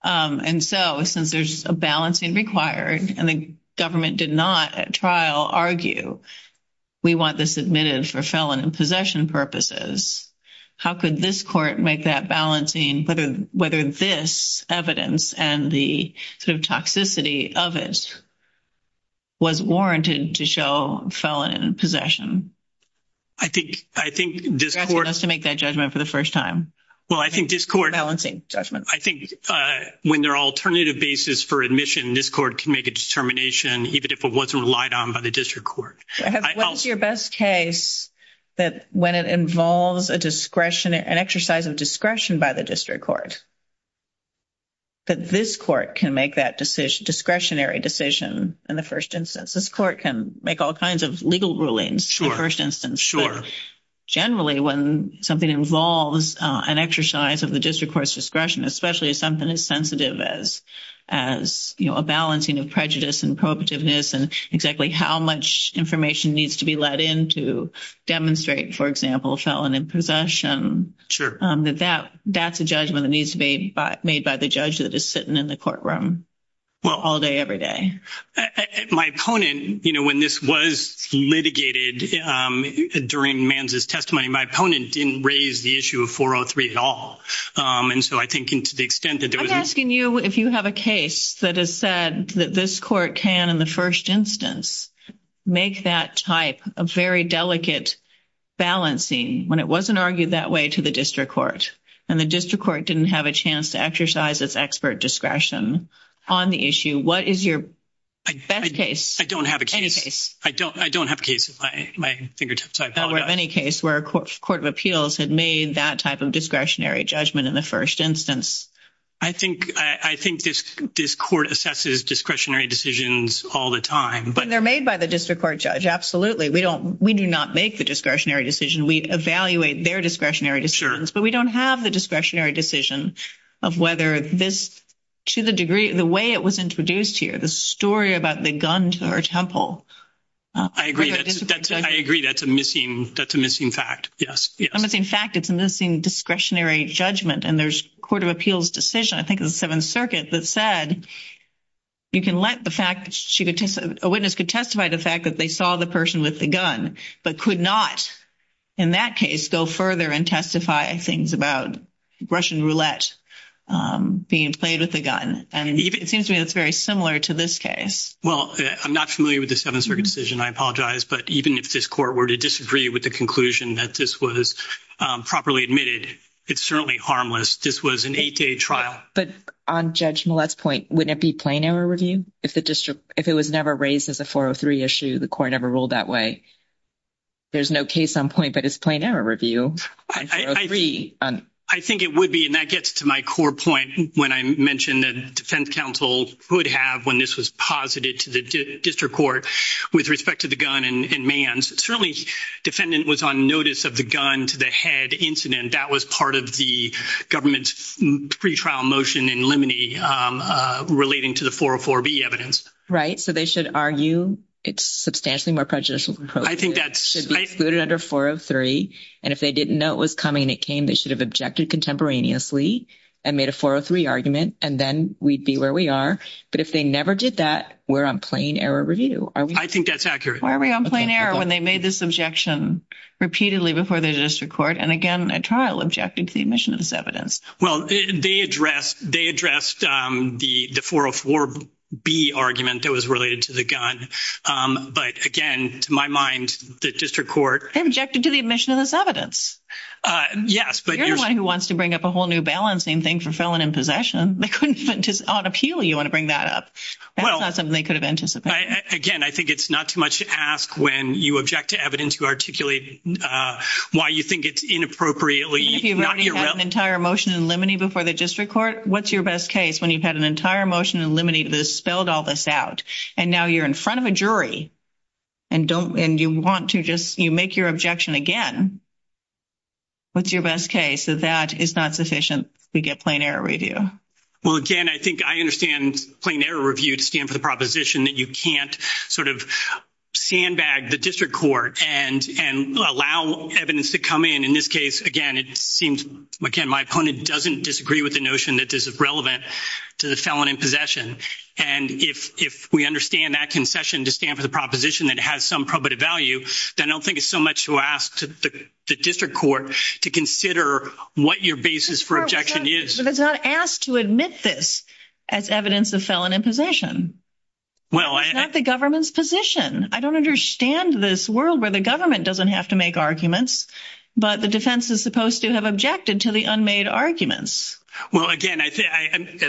and so since there's a balancing required and the government did not at trial argue we want this admitted for felon in possession purposes how could this court make that balancing but whether this evidence and the toxicity of it was warranted to show felon in possession I think I think this judgment for the first time well I think this court balancing judgment I think when their alternative basis for admission this court can make a determination even if it wasn't relied on by the district court your best case that when it involves a discretion and exercise of discretion by the district court but this court can make that decision discretionary decision in the first instance this court can make all kinds of legal rulings for instance generally when something involves an exercise of the district court's discretion especially something as sensitive as as you know a balancing of prejudice and proactiveness and exactly how much information needs to be let in to demonstrate for example felon in possession sure that that that's a judgment that needs to be made by the judge that is sitting in the courtroom well all day every day my opponent you know when this was litigated during man's testimony my opponent didn't raise the issue of 403 at all and so I think into the extent that I'm asking you if you have a case that has said that this court can in the first instance make that type of very delicate balancing when it wasn't argued that way to the district court and the district court didn't have a chance to exercise this expert discretion on the issue what is your best case I don't have a case I don't I don't have a case of any case where a court of appeals had made that type of discretionary judgment in the first instance I think I think this this court assesses discretionary decisions all the time but they're made by the district court judge absolutely we don't we do not make the discretionary decision we evaluate their discretionary insurance but we don't have the discretionary decision of whether this to the degree the way it was introduced here the story about the guns or temple I agree I agree that's a missing that's a missing fact yes I'm looking fact it's a missing discretionary judgment and there's court of appeals decision I think in the Seventh Circuit that said you can let the fact that she could take a witness could testify the fact that they saw the person with the gun but could not in that case go further and testify and things about Russian roulette being played with a gun and it seems to me that's very similar to this case well I'm not familiar with the seven circumcision I apologize but even if this court were to disagree with the conclusion that this was properly admitted it's certainly harmless this was an 8k trial but on judgment less point wouldn't be plain error review if the district if it was never raised as a issue the court ever ruled that way there's no case on point but it's plain error review I agree on I think it would be and that gets to my core point when I mentioned that defense counsel would have when this was posited to the district court with respect to the gun and man's certainly defendant was on notice of the gun to the head incident that was part of the government's free trial motion in limine relating to the 404 be evidence right so they should argue it's substantially more prejudicial I think that should be excluded under 403 and if they didn't know it was coming it came they should have objected contemporaneously and made a 403 argument and then we'd be where we are but if they never did that we're on plain error review I think that's accurate why are we on plane air when they made this objection repeatedly before they just record and again a trial objecting to the admissions evidence well they addressed they addressed the the 404 be argument that was related to the gun but again to my mind the district court objected to the admission of this evidence yes but you're the one who wants to bring up a whole new balancing thing for felon in possession they couldn't just on appeal you want to bring that up well they could have been just again I think it's not too much to ask when you object to evidence you articulate why you think it's inappropriately you've got an entire motion in limine before the district court what's your best case when you've had an entire motion and eliminate this spelled all this out and now you're in front of a jury and don't and you want to just you make your objection again what's your best case that that is not sufficient we get plain error review well again I think I understand plain error review to stand for the proposition that you can't sort of sandbag the district court and and allow evidence to come in in this case again it seems again my opponent doesn't disagree with the notion that this is to the felon in possession and if we understand that concession to stand for the proposition that has some probative value then I don't think it's so much to ask to the district court to consider what your basis for objection is not asked to admit this as evidence of felon in possession well at the government's position I don't understand this world where the government doesn't have to make arguments but the defense is supposed to have objected to the unmade arguments well again I think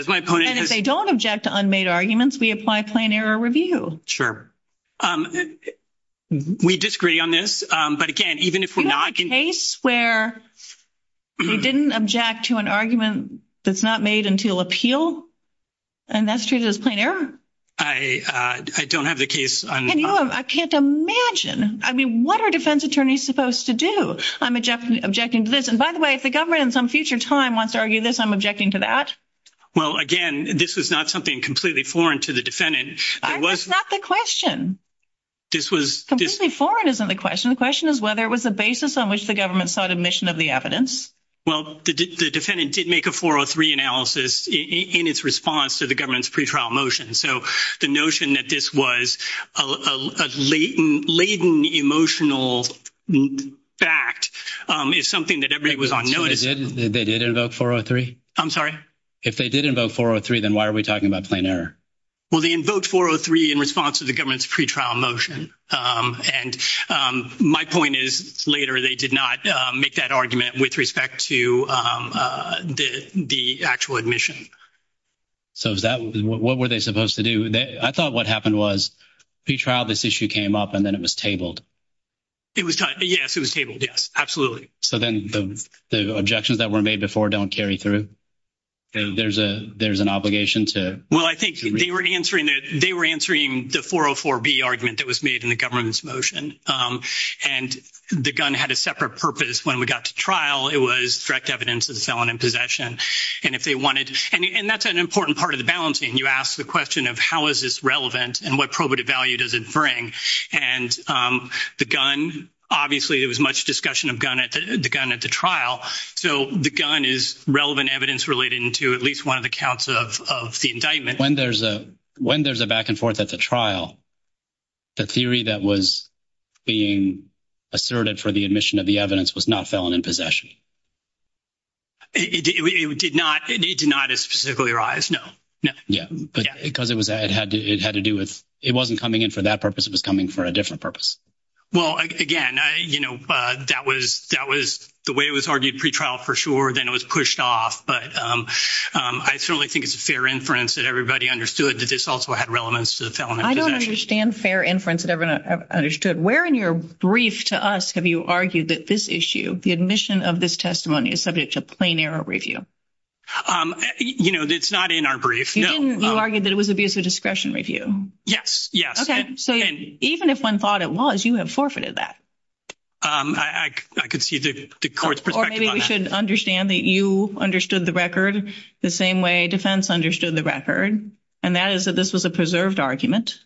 they don't object to unmade arguments we apply plain error review sure we disagree on this but again even if we're not in a square we didn't object to an argument that's not made until appeal and that's true this player I don't have the case I can't imagine I mean what our defense attorneys supposed to do I'm a Jeff objecting this and by the way if the future time wants to argue this I'm objecting to that well again this is not something completely foreign to the defendant was not the question this was completely foreign isn't the question the question is whether it was the basis on which the government thought admission of the evidence well the defendant did make a 403 analysis in its response to the government's pretrial motion so the notion that this was a latent emotional fact is something that they did about 403 I'm sorry if they didn't vote for a three then why are we talking about plain error well they invoked 403 in response to the government's pretrial motion and my point is later they did not make that argument with respect to the actual admission so is that what were they supposed to do and I thought what happened was the trial this issue came up and then it was tabled it was absolutely so then the objections that were made before don't carry through there's a there's an obligation to well I think they were answering that they were answering the 404 B argument that was made in the government's motion and the gun had a separate purpose when we got to trial it was direct evidence of the felon in possession and if they wanted and that's an important part of the balancing you ask the question of how is this relevant and what probative value does it bring and the gun obviously it was much discussion of gun at the gun at the trial so the gun is relevant evidence relating to at least one of the counts of the indictment when there's a when there's a back-and-forth at the trial the theory that was being asserted for the admission of the evidence was not felon in possession it did not arise no yeah because it was that had to do with it wasn't coming in for that purpose it was coming for a different purpose well again you know that was that was the way it was argued pretrial for sure then it was pushed off but I certainly think it's a fair inference that everybody understood that this also had relevance to the film I don't understand fair inference that everyone understood where in your brief to us have you argued that this issue the admission of this testimony is subject to plain error review you know it's not in our brief you know argue that it was abuse of discretion review yes yeah okay so even if one thought it was you have forfeited that I could see the course or maybe we should understand that you understood the record the same way defense understood the record and that is that this was a preserved argument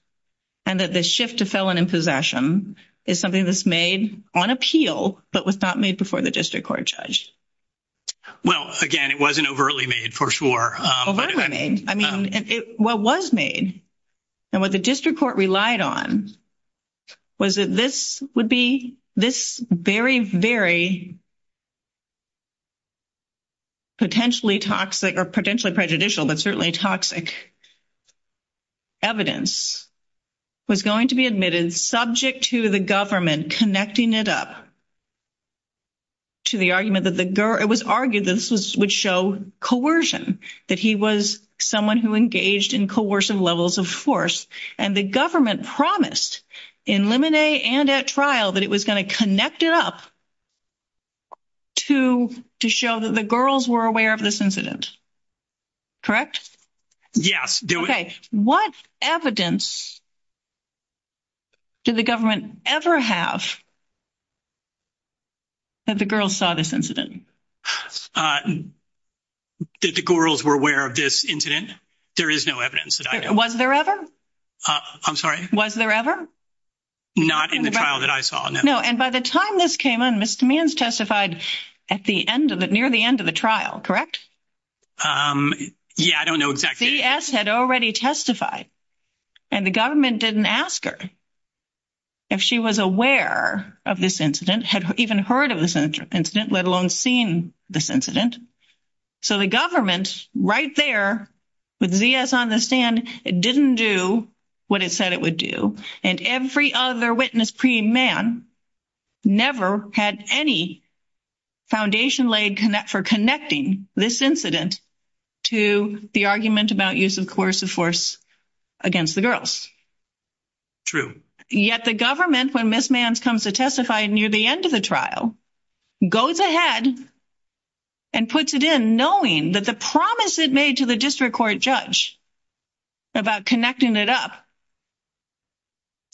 and that the shift to felon in possession is something that's made on appeal but was not made before the district court judge well again it wasn't overly made for sure I mean what was made and what the district court relied on was that this would be this very very potentially toxic or potentially prejudicial but certainly toxic evidence was going to be admitted subject to the government connecting it up to the argument that the girl it was argued that this would show coercion that he was someone who engaged in coercive levels of force and the government promised in limine and at trial but it was going to connect it up to to show that the girls were aware of this incident correct yes okay what evidence did the government ever have that the girl saw this incident did the girls were aware of this incident there is no evidence was there ever I'm sorry was there ever not in the trial that I saw no and by the time this came on mr. man's testified at the end of it near the end of the trial correct yeah I testified and the government didn't ask her if she was aware of this incident had even heard of this incident let alone seen this incident so the government's right there with the s on the stand it didn't do what it said it would do and every other witness pre man never had any foundation leg connect for this incident to the argument about use of course of force against the girls true yet the government when this man's comes to testify near the end of the trial goes ahead and puts it in knowing that the promise that made to the district court judge about connecting it up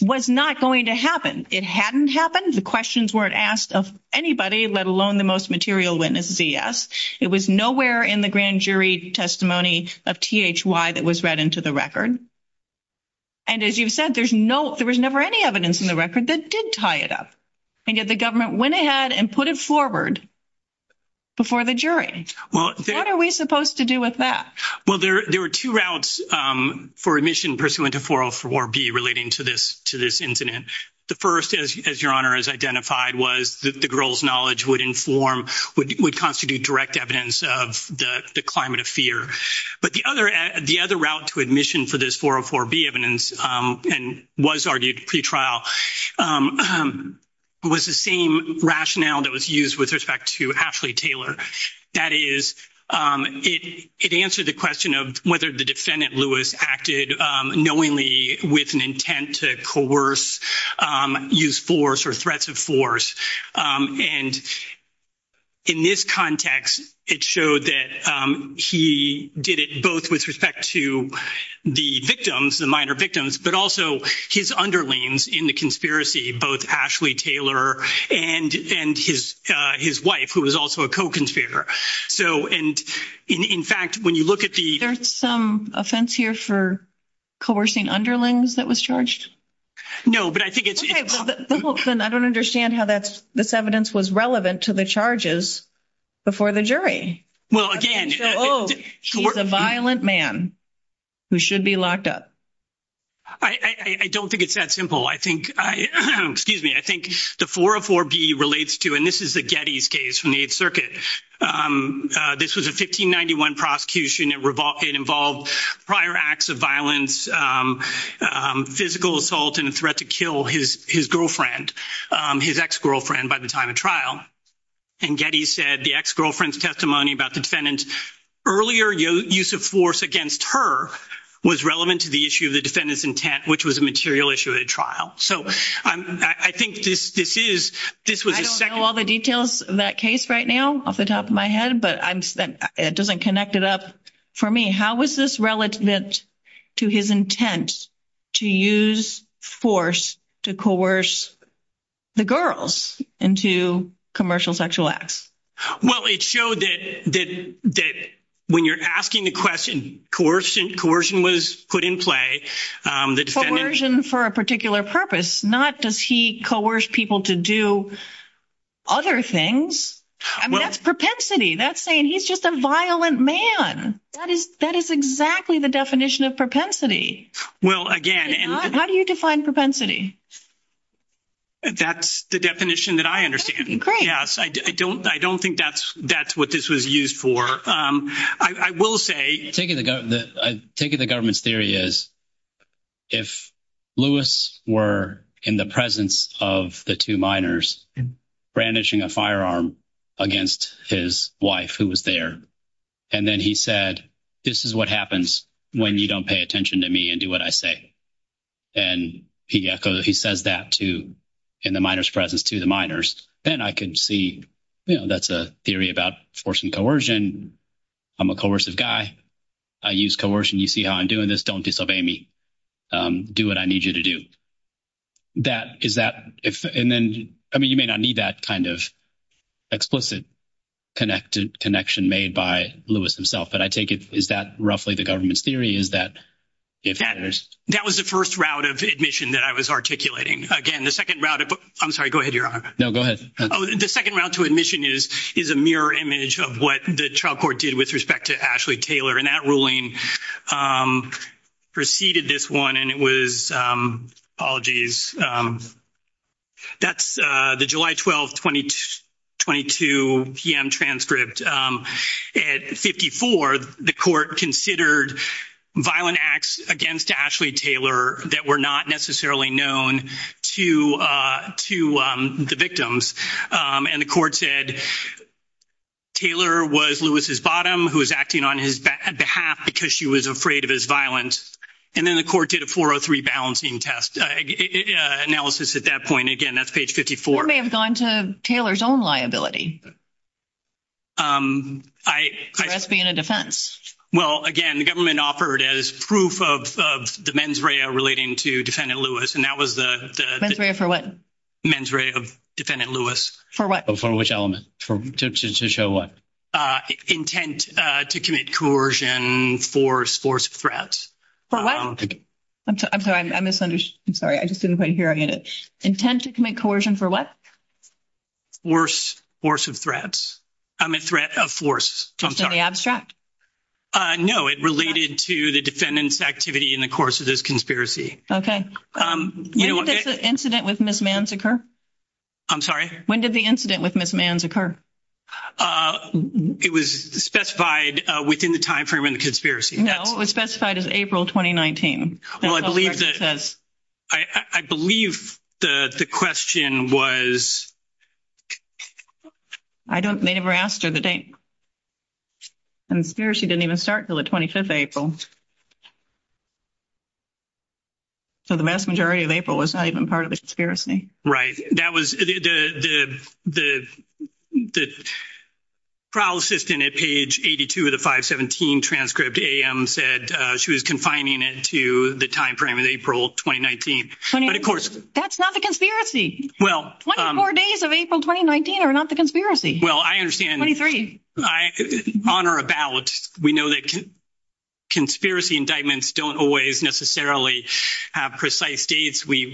was not going to happen it hadn't happened the questions weren't asked of anybody let alone the most material witness vs it was nowhere in the grand jury testimony of th why that was read into the record and as you said there's no there was never any evidence in the record that did tie it up and get the government went ahead and put it forward before the jury well what are we supposed to do with that well there there were two routes for admission pursuant to 404 be relating to this to this incident the first as your honor is identified was the girls knowledge would inform would constitute direct evidence of the climate of fear but the other at the other route to admission for this 404 be evidence and was already a pretrial was the same rationale that was used with respect to Ashley Taylor that is it answered the question of whether the defendant Lewis acted knowingly with intent to coerce use force or threats of force and in this context it showed that he did it both with respect to the victims the minor victims but also his underlings in the conspiracy both actually Taylor and and his his wife who is also a co-conspirator so and in fact when you look at the there's some offense here for coercing underlings that was charged no but I think it's I don't understand how that's this evidence was relevant to the charges before the jury well again oh she was a violent man who should be locked up I don't think it's that simple I think excuse me I think the 404 be relates to and this is the Getty's case from the 8th Circuit this was a 1591 prosecution that revolved involved prior acts of violence physical assault and a threat to kill his his girlfriend his ex-girlfriend by the time of trial and Getty said the ex-girlfriend's testimony about the defendant's earlier use of force against her was relevant to the issue of the defendant's intent which was a material issue at a trial so I think this is this was all the details of that case right now off the top of my head but I'm spent it doesn't connect it up for me how is this relevant to his intent to use force to coerce the girls into commercial sexual acts well it showed that when you're asking a question coercion coercion was put in play for a particular purpose not does coerce people to do other things that's propensity that's saying he's just a violent man that is that is exactly the definition of propensity well again and how do you define propensity that's the definition that I understand great yes I don't I don't think that's that's what this was used for I will say I think of the government's theory is if Lewis were in the presence of the two minors brandishing a firearm against his wife who was there and then he said this is what happens when you don't pay attention to me and do what I say and he echoes he says that to in the miners presence to the miners then I can see that's a theory about forcing coercion I'm a coercive guy I use coercion you see how I'm doing this don't disobey me do what I need you to do that is that if and then I mean you may not need that kind of explicit connected connection made by Lewis himself but I take it is that roughly the government's theory is that if that is that was the first route of admission that I was articulating again the second route of I'm sorry go ahead you're on no go ahead oh the second route to admission is is a mirror image of what the trial court did with respect to Ashley Taylor and that ruling preceded this one and it was apologies that's the July 12 20 22 p.m. transcript at 54 the court considered violent acts against Ashley Taylor that were not necessarily known to to the victims and the court said Taylor was Lewis's bottom who is acting on his behalf because she was afraid of his violence and then the court did a 403 balancing test analysis at that point again that's page 54 may have gone to Taylor's own liability I that's being a defense well again the government offered as proof of the mens rea relating to defendant Lewis and that was the for what mens rea of defendant Lewis for what for which element for to show what intent to commit coercion force force threats for what I'm sorry I misunderstood sorry I just didn't quite hearing it intent to commit coercion for what worse force of threats I'm a threat of force I'm sorry abstract I know it related to the defendant's activity in the course of this conspiracy okay incident with misman's occur I'm sorry when did the incident with misman's occur it was specified within the time frame in the conspiracy no it was specified as April 2019 well I believe that I believe the question was I don't they never asked you the date and here she didn't even start till the 25th April so the mass majority of April was not even part of the conspiracy right that was the the the trial assistant at page 82 of the 517 transcript a.m. said she was confining it to the time frame of April 2019 of course that's not the conspiracy well four days of April 2019 or not the conspiracy well I understand honor about we know that conspiracy indictments don't always necessarily have precise days we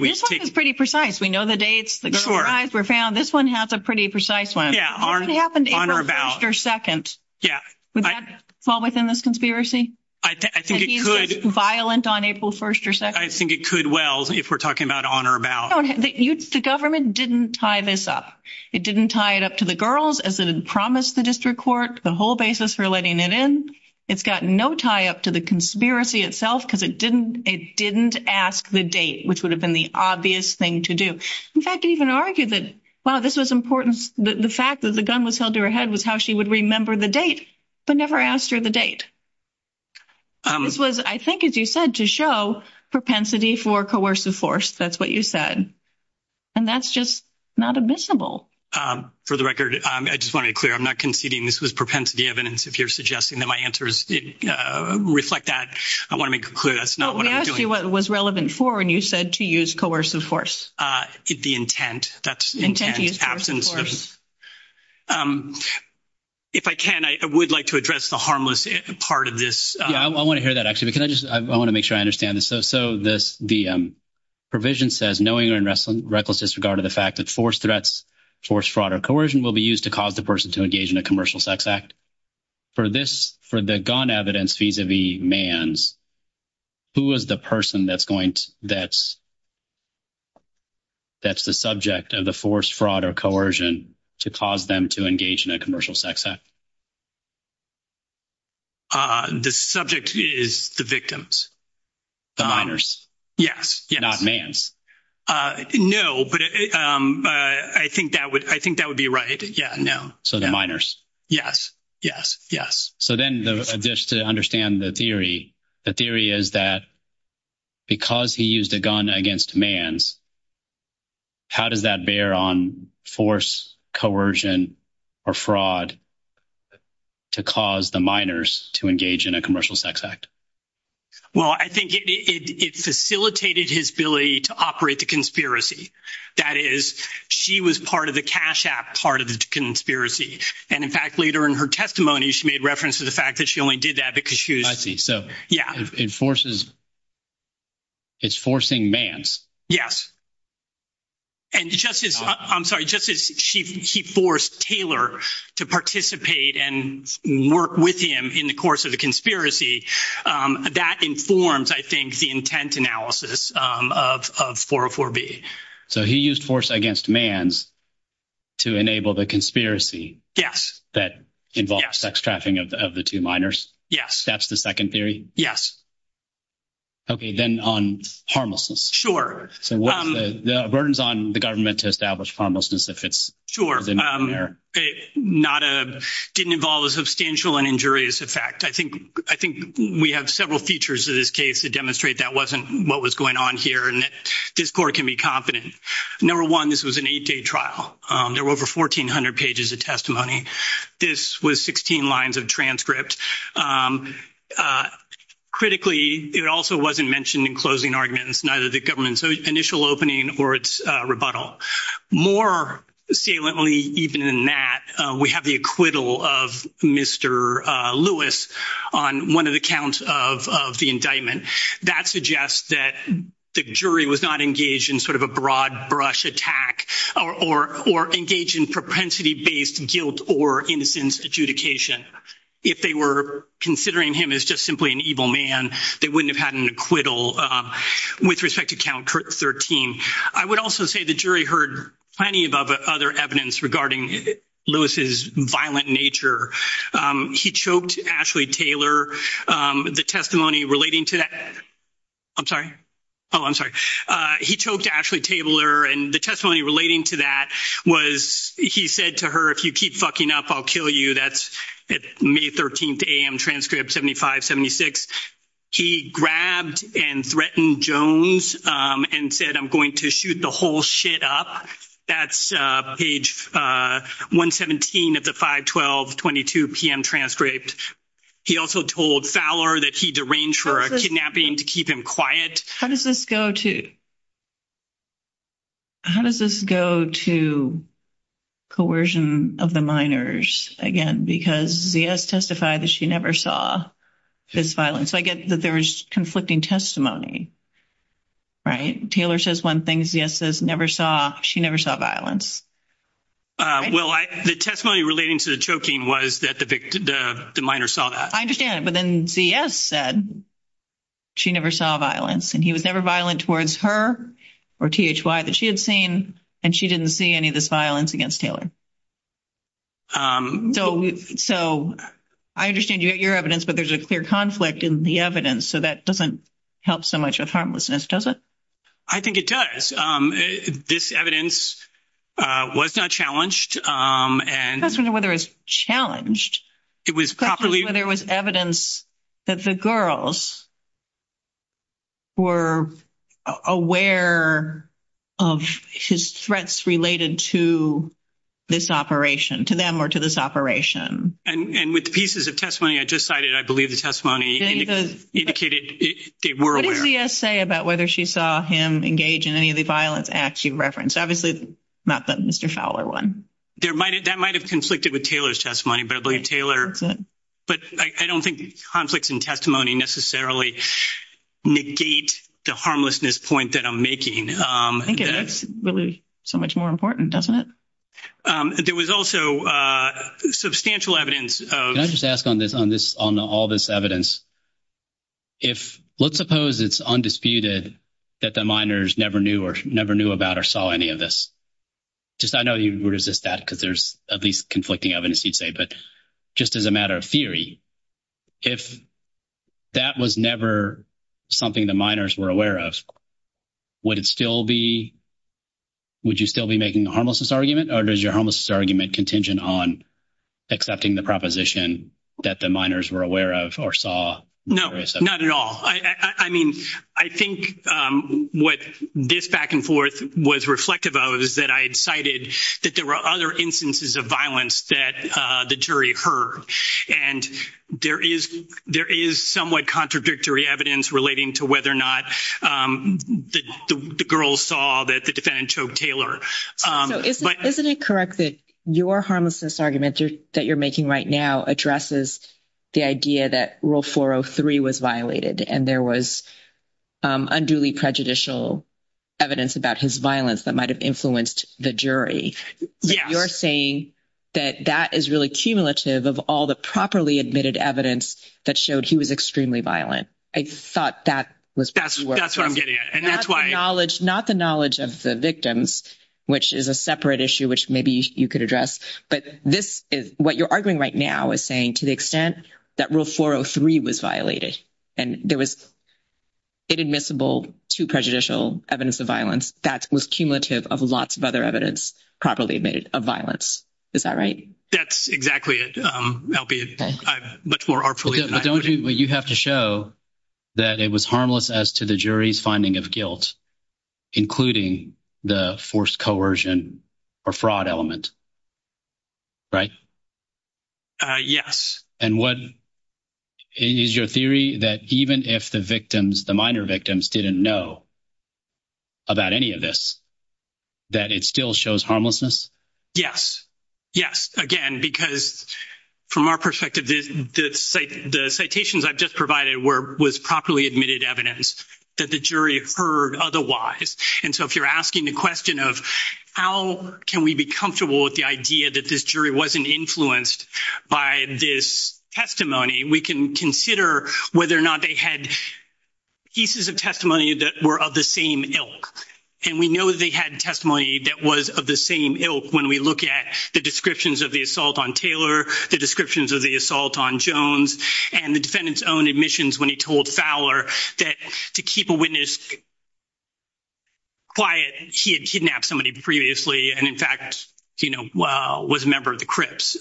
pretty precise we know the dates the eyes were found this one has a pretty precise one yeah on or about your second yeah well within this conspiracy I think violent on April 1st or so I think it could well if we're talking about honor about the government didn't tie this up it didn't tie it up to the girls as it had promised the district court the whole basis for letting it in it's got no tie up to the conspiracy itself because it didn't it didn't ask the date which would have been the obvious thing to do in fact even argued that well this was important the fact that the gun was held to her head was how she would remember the date but never asked her the date I think as you said to show propensity for coercive force that's what you said and that's not admissible for the record I just want to clear I'm not conceding this was propensity evidence if you're suggesting that my answers reflect that I want to make a clue that's not what I asked you what was relevant for and you said to use coercive force did the intent that's intense absence if I can I would like to address the harmless part of this I want to hear that actually because I just I want to make sure I understand so so this the provision says knowing and wrestling reckless disregard of the fact that force threats force fraud or coercion will be used to cause the person to engage in a commercial sex act for this for the gun evidence these are the man's who is the person that's going that's that's the subject of the force fraud or coercion to cause them to engage in a commercial sex act ah the subject is the victims the honors yes you're not man no but I think that would I think that would be right yeah no so the minors yes yes yes so then the dish to understand the theory the theory is that because he used a gun against man's how does that bear on force coercion or fraud to cause the minors to engage in a commercial sex act well I think it facilitated his ability to operate the conspiracy that is she was part of the cash app part of the conspiracy and in fact later in her testimony she made reference to the fact that she only did that because she was he so yeah enforces it's forcing man's yes and justice I'm sorry justice she forced Taylor to participate and work with him in the course of the conspiracy that informs I think the intent analysis of 404 B so he used force against man's to enable the conspiracy yes that involves sex trafficking of the two minors yes that's the second theory yes okay then on harmless sure the burdens on the government to establish harmlessness if it's sure they're not a didn't involve a substantial and injurious effect I think I think we have several features of this case to demonstrate that wasn't what was going on here and that this court can be competent number one this was an eight-day trial there were over 1,400 pages of testimony this was 16 lines of transcript critically it also wasn't mentioned in closing arguments neither the government's initial opening or its rebuttal more saliently even in that we have the acquittal of mr. Lewis on one of the counts of the indictment that suggests that the jury was not engaged in sort of a broad-brush attack or or engage in propensity-based guilt or instance adjudication if they were considering him as just simply an evil man they wouldn't have had an acquittal with respect to count 13 I would also say the jury heard plenty of other evidence regarding Lewis's violent nature he choked Ashley Taylor the testimony relating to that I'm sorry oh I'm sorry he choked Ashley Taylor and the testimony relating to that was he said to her if you keep fucking up I'll kill you that's May 13th a.m. transcript 75 76 he grabbed and threatened Jones and said I'm going to shoot the whole shit up that's page 117 at the 512 22 p.m. transcript he also told Fowler that he deranged for a kidnapping to keep him quiet how does this go to how does this go to coercion of the miners again because the S testified that she never saw this violence I get that there's conflicting testimony right Taylor says one thing yes this never saw she never saw violence well the testimony relating to the choking was that the minor saw that I understand but then CS said she never saw violence and he was never violent towards her or THY that she had seen and she didn't see any of this violence against Taylor so I understand your evidence but there's a clear conflict in the evidence so that doesn't help so much of harmlessness does it I think it does this evidence was not challenged and that's when the weather is challenged it was probably there was evidence that the girls were aware of his threats related to this operation to them or to this operation and with the pieces of testimony I just cited I believe the testimony the indicated it we're aware say about whether she saw him engage in any of the violence acts you reference obviously not that mr. one there might have that might have conflicted with Taylor's testimony but I believe Taylor but I don't think conflicts in testimony necessarily negate the harmlessness point that I'm making I think it's really so much more important doesn't it there was also substantial evidence I just asked on this on this on all this evidence if let's suppose it's undisputed that the miners never knew or never knew about or saw any of this just I know you resist that because there's at least conflicting evidence each day but just as a matter of theory if that was never something the miners were aware of would it still be would you still be making the harmlessness argument or does your homelessness argument contingent on accepting the proposition that the saw no not at all I mean I think what this back-and-forth was reflective of is that I decided that there were other instances of violence that the jury heard and there is there is somewhat contradictory evidence relating to whether or not the girls saw that the defendant choked Taylor but isn't it correct that your harmlessness argument that you're making right now addresses the idea that rule 403 was violated and there was unduly prejudicial evidence about his violence that might have influenced the jury you're saying that that is really cumulative of all the properly admitted evidence that showed he was extremely violent I thought that was not the knowledge of the victims which is a separate issue which maybe you could address but this is what you're arguing right now is saying to the extent that rule 403 was violated and there was inadmissible to prejudicial evidence of violence that was cumulative of lots of other evidence properly made of violence is that right that's exactly it but for our police don't you have to show that it was as to the jury's finding of guilt including the forced coercion or fraud element right yes and what is your theory that even if the victims the minor victims didn't know about any of this that it still shows harmlessness yes yes again because from our perspective the citations I've just provided were was properly admitted evidence that the jury heard otherwise and so if you're asking the question of how can we be comfortable with the idea that this jury wasn't influenced by this testimony we can consider whether or not they had pieces of testimony that were of the same ilk and we know they had testimony that was of the same ilk when we look at the descriptions of the assault on Taylor the descriptions of the assault on Jones and the defendants own admissions when he told Fowler that to keep a witness quiet he had kidnapped somebody previously and in fact you know well was a member of the Crips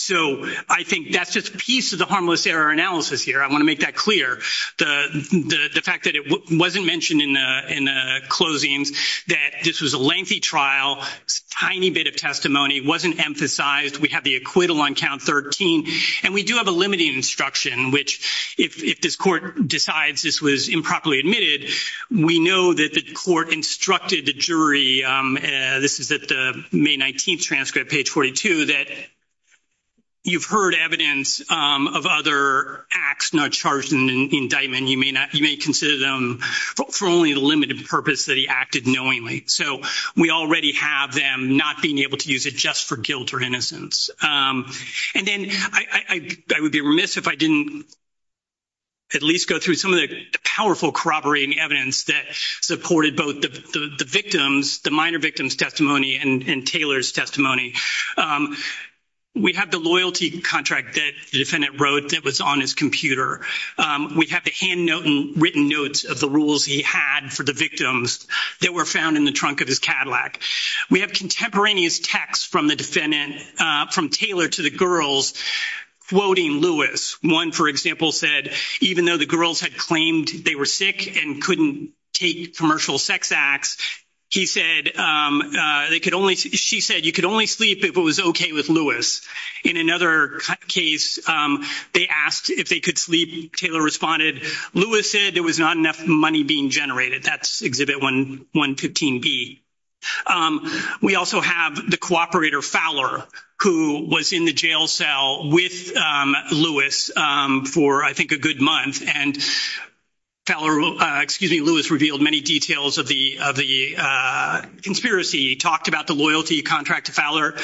so I think that's just a piece of the harmless error analysis here I want to make that clear the fact that it wasn't mentioned in the in the closing that this was a lengthy trial tiny bit of testimony wasn't emphasized we have the on count 13 and we do have a limiting instruction which if this court decides this was improperly admitted we know that the court instructed the jury this is at the May 19th transcript page 42 that you've heard evidence of other acts not charged in the indictment you may not you may consider them for only a limited purpose that he acted knowingly so we already have them not being able to use it just for guilt or innocence and then I would be remiss if I didn't at least go through some of the powerful corroborating evidence that supported both the victims the minor victims testimony and Taylor's testimony we have the loyalty contract that the defendant wrote that was on his computer we have the hand note and written notes of the rules he had for the victims that were found in the trunk of his Cadillac we have contemporaneous text from the defendant from Taylor to the girls quoting Lewis one for example said even though the girls had claimed they were sick and couldn't take commercial sex acts he said they could only she said you could only sleep if it was okay with Lewis in another case they asked if they could sleep Taylor responded Lewis said there was not enough money being generated that's exhibit 112 D we also have the cooperator Fowler who was in the jail cell with Lewis for I think a good month and teller will excuse me Lewis revealed many details of the of the conspiracy talked about the loyalty contract to Fowler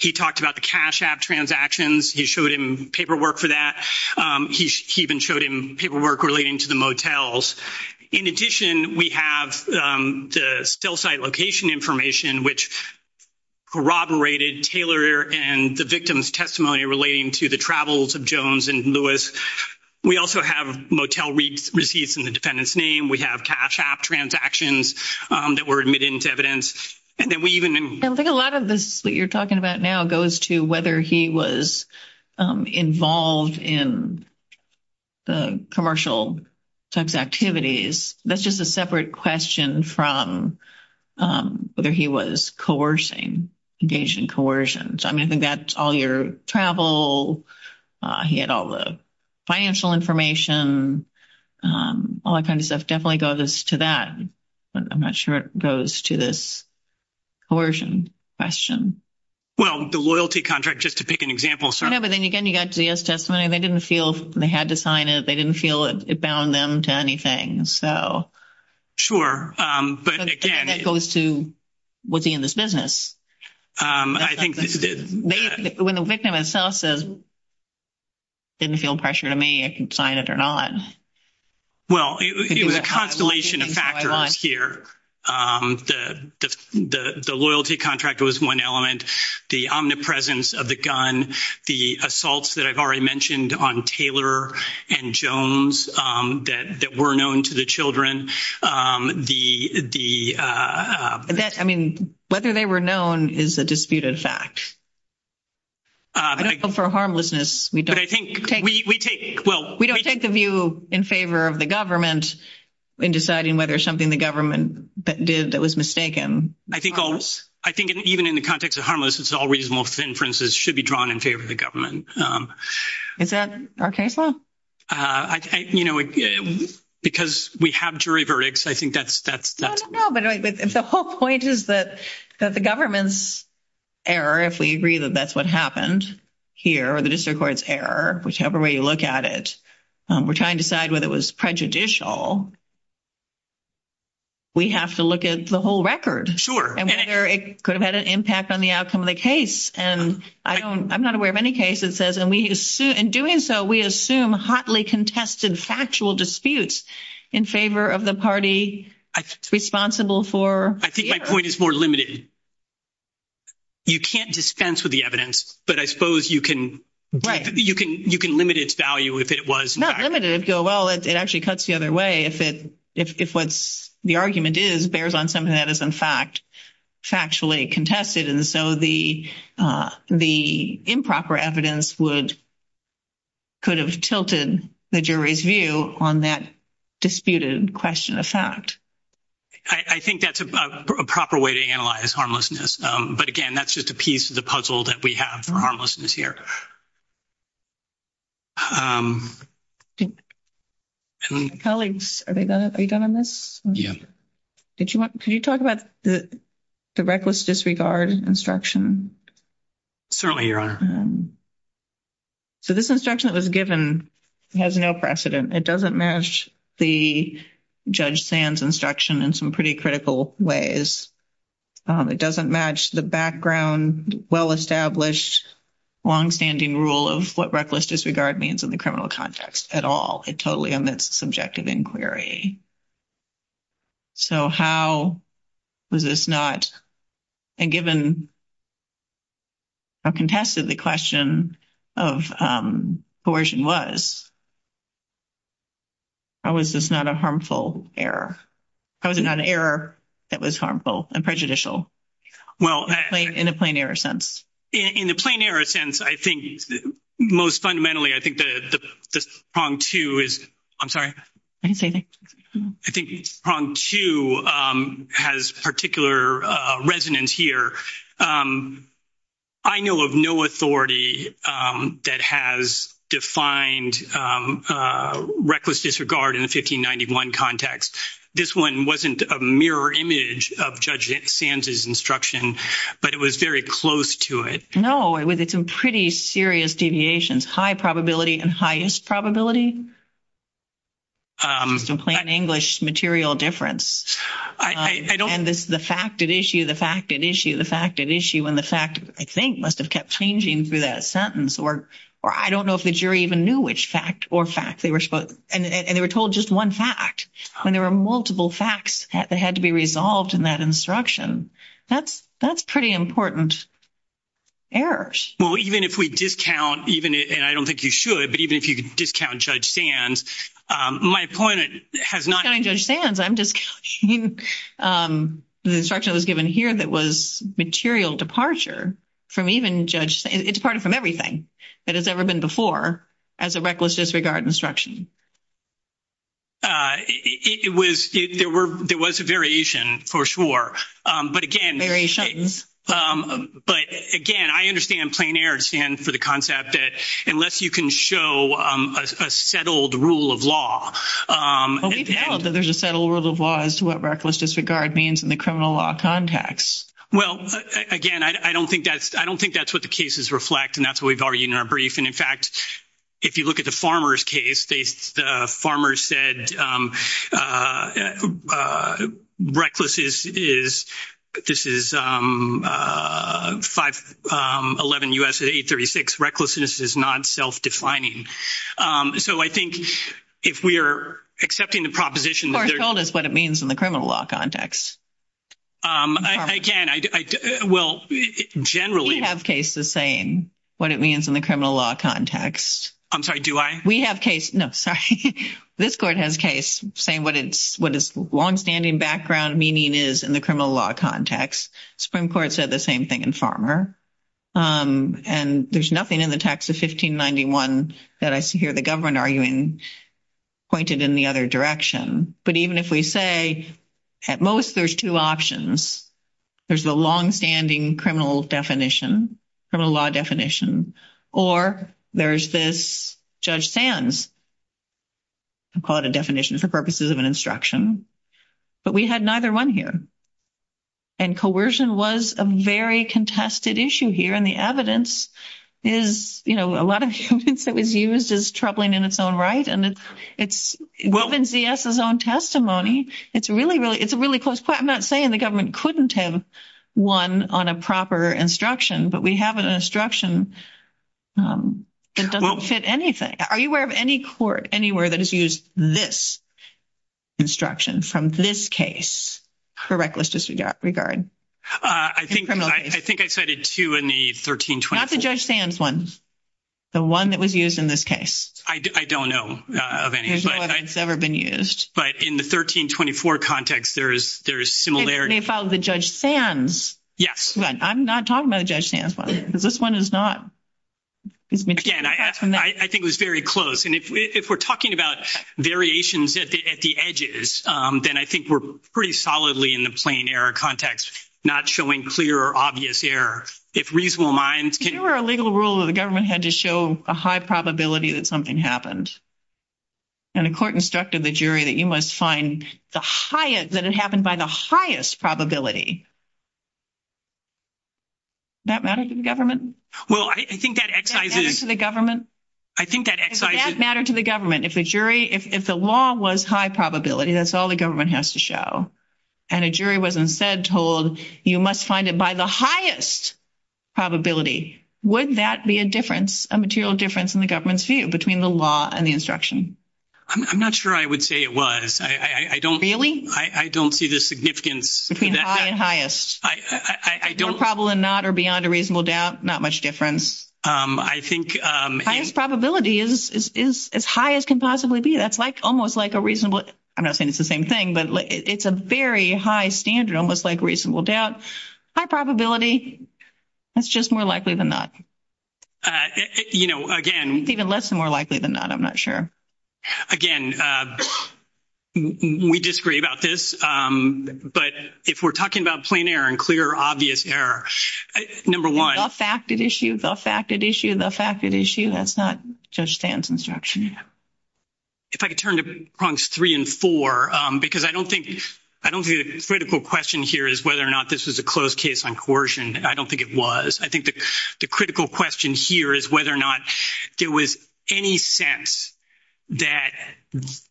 he talked about the cash app transactions he showed him paperwork for that he even showed him paperwork relating to the motels in addition we have still site location information which corroborated Taylor and the victims testimony relating to the travels of Jones and Lewis we also have motel we received in the defendant's name we have cash app transactions that were admitted into evidence and then we even think a lot of this that you're talking about now goes to whether he was involved in the commercial sex activities that's just a separate question from whether he was coercing engaging coercion so I mean I think that's all your travel he had all the financial information all that kind of stuff definitely goes to that I'm not sure it goes to this coercion question well the loyalty contract just to pick an example so never then again you got to the S testimony they didn't feel they had to sign it they didn't feel it it bound them to anything so sure but it goes to what the in this business when the victim itself says didn't feel pressure to me I can sign it or not well the constellation of factors here the loyalty contract was one element the omnipresence of the gun the assaults that I've already mentioned on Taylor and Jones that were known to the children the the that I mean whether they were known is the disputed fact I don't go for a harmlessness we do I well we don't take the view in favor of the government in deciding whether something the government that did that was mistaken I think all I think even in the context of harmless it's all reasonable inferences should be drawn in favor of the government because we have jury verdicts I think that's that's the whole point is that that the government's error if we agree that that's what happened here or the district courts error whichever way you look at it we're trying to decide whether it was prejudicial we have to look at the whole record sure it could have had an impact on the outcome of the case and I don't I'm not aware of any case that says and we assume in doing so we assume hotly contested factual disputes in favor of the party responsible for I think my point is more limited you can't dispense with the evidence but I suppose you can right you can you can limit its value if it was not limited go well it actually cuts the other way if it if what's the argument is bears on something that is in fact factually contested and so the the improper evidence would could have tilted the jury's view on that disputed question of fact I think that's a proper way to analyze harmlessness but again that's just a piece of the puzzle that we have harmless in this year colleagues are they gonna be done on this yeah did you want could you talk about the the reckless disregard instruction certainly your honor so this instruction that was given has no precedent it doesn't match the judge sans instruction in some pretty critical ways it doesn't match the background well-established long-standing rule of what reckless disregard means in the criminal context at all it totally omits subjective inquiry so how was this not and given a contested the question of coercion was I was just not a harmful error I was an error that was harmful and prejudicial well in a plain error sense in a plain error sense I think most fundamentally I think the wrong to is I'm sorry I think wrong to has particular resonance here I know of no authority that has defined reckless disregard in the 1591 context this one wasn't a mirror image of judge it stands his instruction but it was very close to it no it was it's a pretty serious deviations high probability and highest probability some plain English material difference I don't the fact of issue the fact that issue the fact that issue and the fact I think must have kept changing through that sentence or or I don't know if the jury even knew which fact or fact they were spoke and they were told just one fact when there were multiple facts that had to be resolved in that instruction that's that's pretty important errors well even if we discount even it and I don't think you should but even if you could discount judge stands my point has not I'm just the instruction was given here that was material departure from even judge it's part of from everything that has ever been before as a reckless disregard instruction it was there were there was a variation for sure but again variation but again I understand plain air stand for the concept that unless you can show a settled rule of law as to what reckless disregard means in the criminal law context well again I don't think that's I don't think that's what the cases reflect and that's what we've already in our brief and in fact if you look at the farmers case they the farmers said reckless is this is 511 us at 836 recklessness is not self-defining so I think if we are accepting the proposition or told us what it means in the criminal law context I can I will generally have cases saying what it means in the criminal law context I'm sorry do I we have case no this court has case saying what it's what is long-standing background meaning is in the criminal law context Supreme Court said the same thing in farmer and there's nothing in the text of 1591 that I see here the government arguing pointed in the other direction but even if we say at most there's two options there's the long-standing criminal definition from a law definition or there's this judge Sands I'm called a definition for purposes of an instruction but we had neither one here and coercion was a very contested issue here and the evidence is you know a lot of things that was used as troubling in its own right and it's it's what wins vs his own testimony it's really really it's a really close but I'm not saying the government couldn't have one on a proper instruction but we have an instruction it doesn't fit anything are you aware of any court anywhere that has used this instruction from this case for reckless disregard regard I think I think I said it too in the 1320 not the judge fans one the one that was used in this case I don't know never been used but in the 1324 context there is there is similar they follow the judge fans yes but I'm not talking about a judge hands on this one is not I think was very close and if we're talking about variations at the edges then I think we're pretty solidly in the plain air context not showing clear obvious air it's reasonable minds here are a legal rule of the government had to show a high probability that something happened and the court instructed the jury that you must find the highest that it happened by the highest probability that well I think that to the government I think that matter to the government if a jury if the law was high probability that's all the government has to show and a jury wasn't said told you must find it by the highest probability would that be a difference a material difference in the government's view between the law and the instruction I'm not sure I would say it was I don't really I don't see the significance between highest I don't probably not or beyond a reasonable doubt not much difference I think highest probability is as high as can possibly be that's like almost like a reasonable I'm not saying it's the same thing but it's a very high standard almost like reasonable doubt high probability that's just more likely than that you know again even less than more likely than that I'm not sure again we disagree about this but if we're talking about plain error and clear obvious error number one fact that issue the fact that issue the fact that issue that's not just dance instruction if I could turn to prongs three and four because I don't think I don't be a critical question here is whether or not this is a closed case on coercion I don't think it was I think the critical question here is whether or not there was any sense that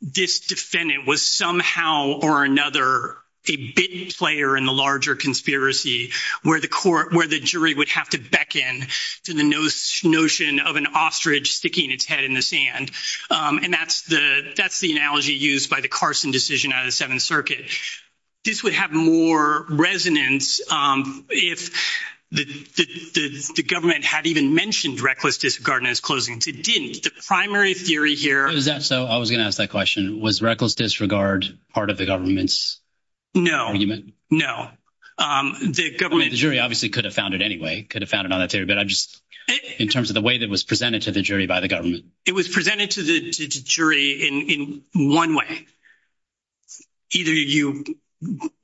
this defendant was somehow or another a bit player in the larger conspiracy where the court where the jury would have to beckon to the nose notion of an ostrich sticking its head in the sand and that's the that's the analogy used by the Carson decision out of Seventh Circuit this would have more resonance if the government had even mentioned reckless disregard as closing the primary theory here is that so I was gonna ask that question was reckless disregard part of the government's no no the government jury obviously could have found it anyway could have found about it there but I just in terms of the way that was presented to the jury by the government it was presented to the jury in one way either you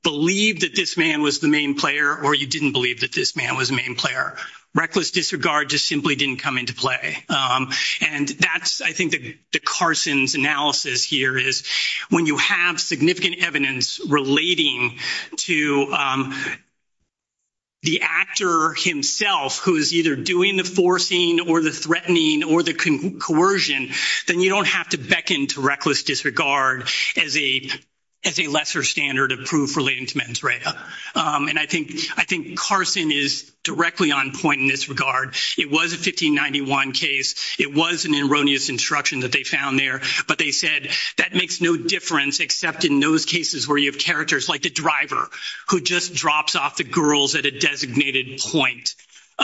believe that this man was the main player or you didn't believe that this man was the player reckless disregard just simply didn't come into play and that's I think the Carson's analysis here is when you have significant evidence relating to the actor himself who is either doing the forcing or the threatening or the coercion then you don't have to beckon to reckless disregard as a as a lesser standard of proof relating to mens rea and I think I think Carson is directly on point in this regard it was a 1591 case it was an erroneous instruction that they found there but they said that makes no difference except in those cases where you have characters like the driver who just drops off the girls at a designated point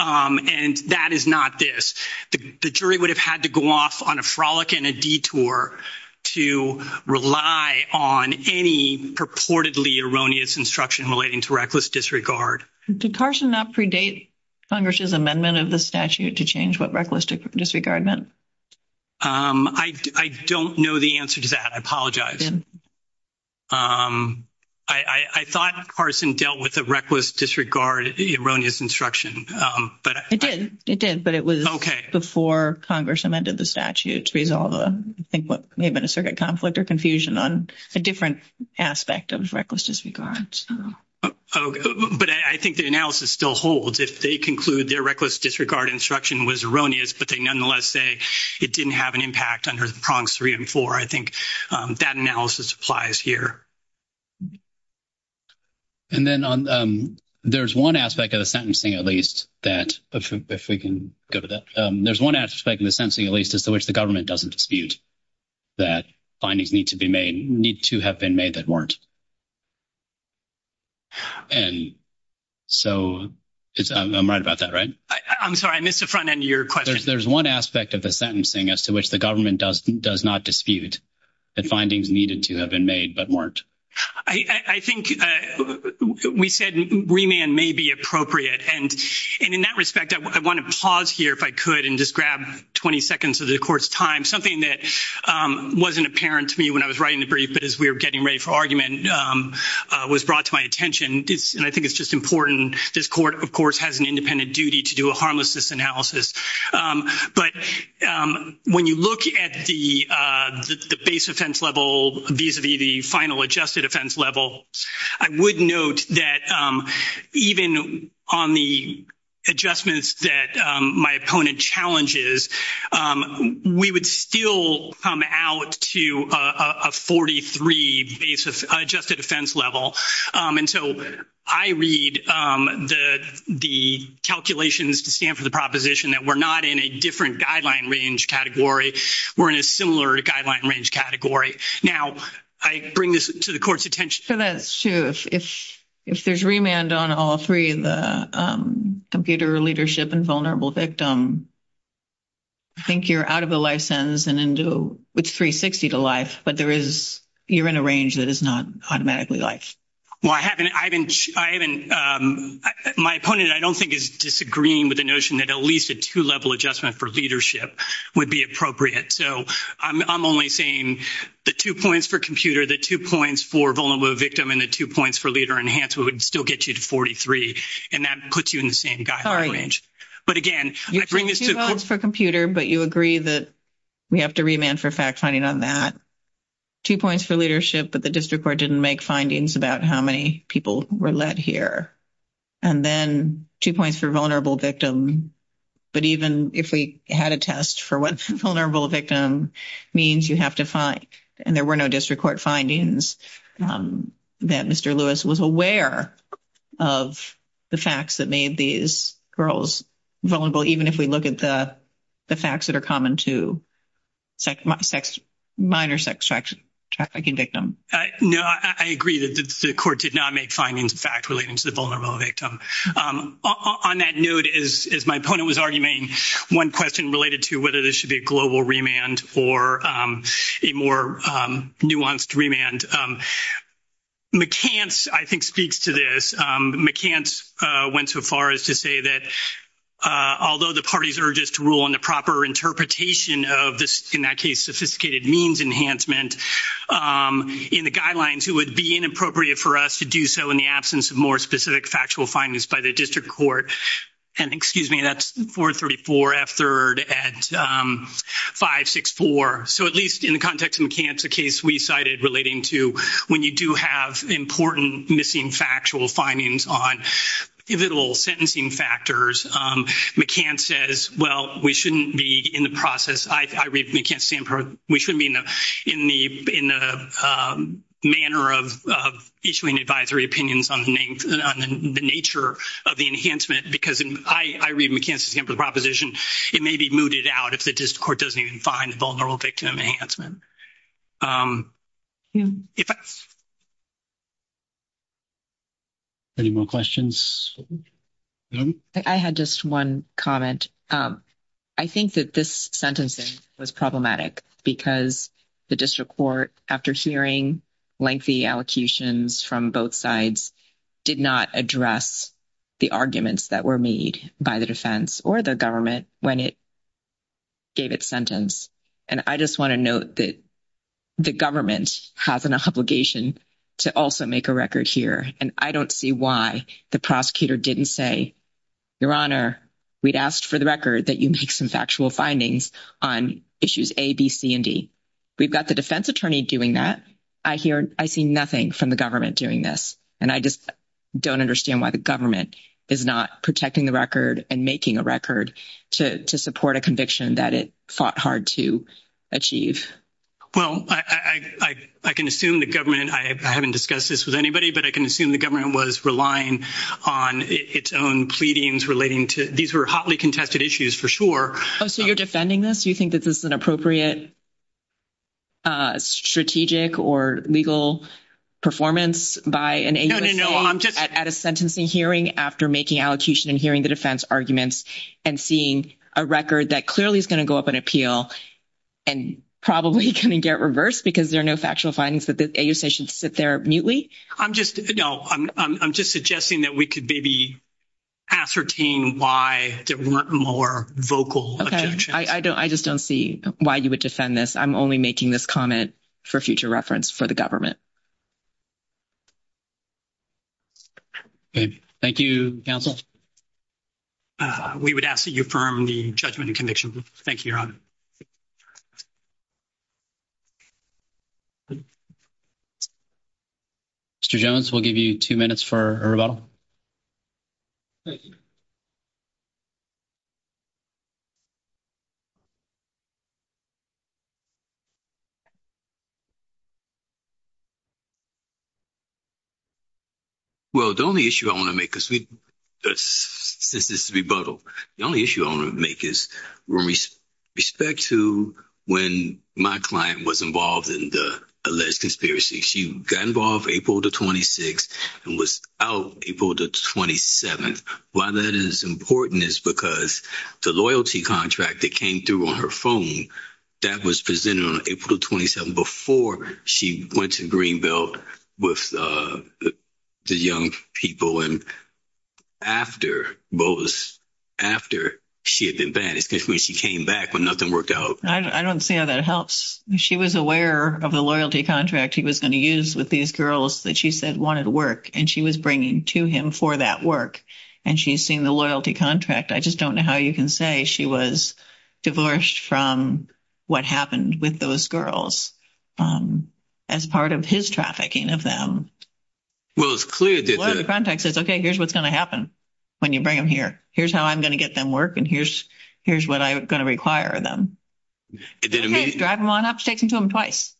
and that is not this the jury would have had to go off on a erroneous instruction relating to reckless disregard to Carson that predate Congress's amendment of the statute to change what reckless disregard meant I don't know the answer to that I apologize I thought Carson dealt with a reckless disregard at the erroneous instruction but it did it did but it was okay before Congress amended the statute to resolve them I think what may have been a circuit conflict or confusion on a different aspect of reckless disregard but I think the analysis still holds if they conclude their reckless disregard instruction was erroneous but they nonetheless say it didn't have an impact under the prongs three and four I think that analysis applies here and then on there's one aspect of the sentencing at least that if we can go to that there's one aspect in the sensing at least as to which the government doesn't dispute that findings need to be made need to have been made that weren't and so I'm right about that right I'm sorry I missed the front end of your question there's one aspect of the sentencing as to which the government does does not dispute that findings needed to have been made but weren't I think we said remand may be appropriate and in that respect I want to pause here if I could and just grab 20 seconds of the court's time something that wasn't apparent to me when I was writing the brief but as we were getting ready for argument was brought to my attention and I think it's just important this court of course has an independent duty to do a harmlessness analysis but when you look at the base offense level these would be the final adjusted offense level I would note that even on the adjustments that my opponent challenges we would still come out to a 43 basis adjusted offense level and so I read the the calculations to stand for the proposition that we're not in a different guideline range category we're in a similar guideline range category now I bring this to the court's attention so that's true if if there's remand on all three of the computer leadership and vulnerable victim I think you're out of the license and into which 360 to life but there is you're in a range that is not automatically life well I haven't I didn't I haven't my opponent I don't think is disagreeing with the notion that at least a two-level adjustment for leadership would be appropriate so I'm only saying the two points for computer the two points for vulnerable victim and the two points for leader enhancement would still get you to 43 and that puts you in the same guy all right but again you're doing this for computer but you agree that we have to remand for fact-finding on that two points for leadership but the district court didn't make findings about how many people were let here and then two points for vulnerable victim but even if we had a test for what's vulnerable victim means you have to fight and there were no district court findings that mr. Lewis was aware of the facts that made these girls vulnerable even if we look at the the facts that are common to check my sex minor sex sex trafficking victim no I agree that the court did not make findings fact relating to the vulnerability on that note is my opponent was arguing one question related to whether there should be a wants to remand McCann's I think speaks to this McCann's went so far as to say that although the parties are just rule on the proper interpretation of this in that case sophisticated means enhancement in the guidelines who would be inappropriate for us to do so in the absence of more specific factual findings by the district court and excuse me that's for 34 f-3rd at five six four so at least in the context of McCann's the case we cited relating to when you do have important missing factual findings on little sentencing factors we can't says well we shouldn't be in the process I read we can't stand for we should mean them in the in the manner of issuing advisory opinions on the name the nature of the enhancement because I I read McCann's example proposition it may be if the court doesn't even find vulnerable victim enhancement any more questions I had just one comment I think that this sentencing was problematic because the district court after hearing lengthy allocations from both sides did not address the arguments that were made by the defense or the when it gave its sentence and I just want to note that the government has an obligation to also make a record here and I don't see why the prosecutor didn't say your honor we'd asked for the record that you make some factual findings on issues ABC and D we've got the defense attorney doing that I hear I see nothing from the government doing this and I just don't understand why the is not protecting the record and making a record to support a conviction that it fought hard to achieve well I can assume the government I haven't discussed this with anybody but I can assume the government was relying on its own pleadings relating to these were hotly contested issues for sure so you're defending this do you think that this is an appropriate strategic or legal performance by an angel I'm just at a sentencing hearing after making allocution and hearing the defense arguments and seeing a record that clearly is going to go up an appeal and probably can get reversed because there are no factual findings that this a you say should sit there mutely I'm just you know I'm just suggesting that we could be the ascertaining why more vocal I don't I just don't see why you would just send this I'm only making this comment for future reference for the government thank you we would ask that you perm the judgment and conviction thank you mr. Jones will give you two minutes for a rebuttal you well the only issue I want to make us we that's this is to be bottled the only issue I want to make is roomies respect to when my client was involved in the alleged conspiracy she got involved April the 26th and was out people to 27 why that is important is because the loyalty contract that came through on phone that was presented on April 27 before she went to Greenville with the young people and after what was after she had been vanished when she came back but nothing worked out I don't say that helps she was aware of the loyalty contract he was going to use with these girls that she said wanted to work and she was bringing to him for that work and she's seeing the loyalty contract I just don't know how you can say she was divorced from what happened with those girls as part of his trafficking of them well it's clear that the context is okay here's what's going to happen when you bring him here here's how I'm going to get them work and here's here's what I'm going to require of them it didn't mean it's driving one up sticking to him twice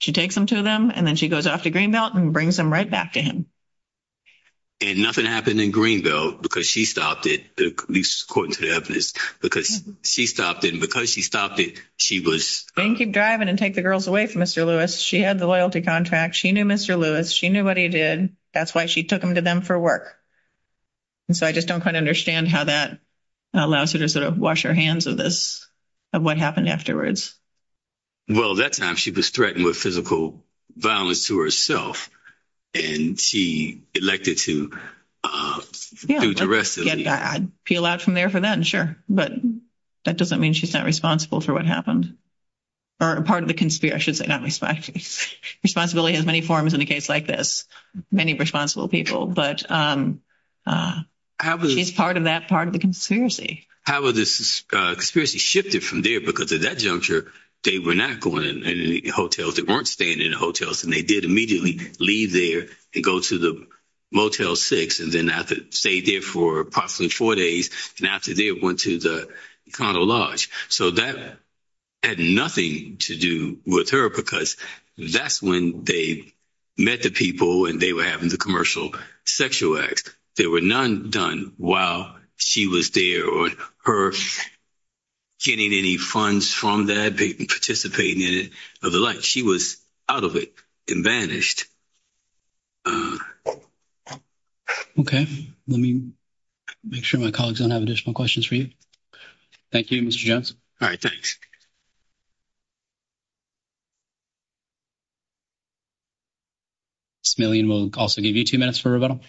she takes them to them and then she goes off to Greenbelt and brings them right back to him and nothing happened in Greenbelt because she stopped it because she stopped in because she stopped it she was thank you driving and take the girls away from mr. Lewis she had the loyalty contract she knew mr. Lewis she knew what he did that's why she took him to them for work and so I just don't quite understand how that allows you to sort of wash your hands of this of what happened afterwards well that's not she was threatened with physical violence to herself and she elected to peel out from there for them sure but that doesn't mean she's not responsible for what happened or a part of the conspiracies they don't respect responsibility has many forms in a case like this many responsible people but how is part of that part of the conspiracy how was this conspiracy shifted from there because at that juncture they were not going in any hotels it weren't staying in hotels and they did immediately leave there and go to the motel six and then after stay there for approximately four days and after they went to the condo Lodge so that had nothing to do with her because that's when they met the people and they were having the commercial sexual act there were none done while she was there or her getting any funds from that big participating in it of the life she was out of it and banished okay let me make sure my colleagues don't have additional questions for you thank you mr. Johnson all right thanks million will also give you two minutes for about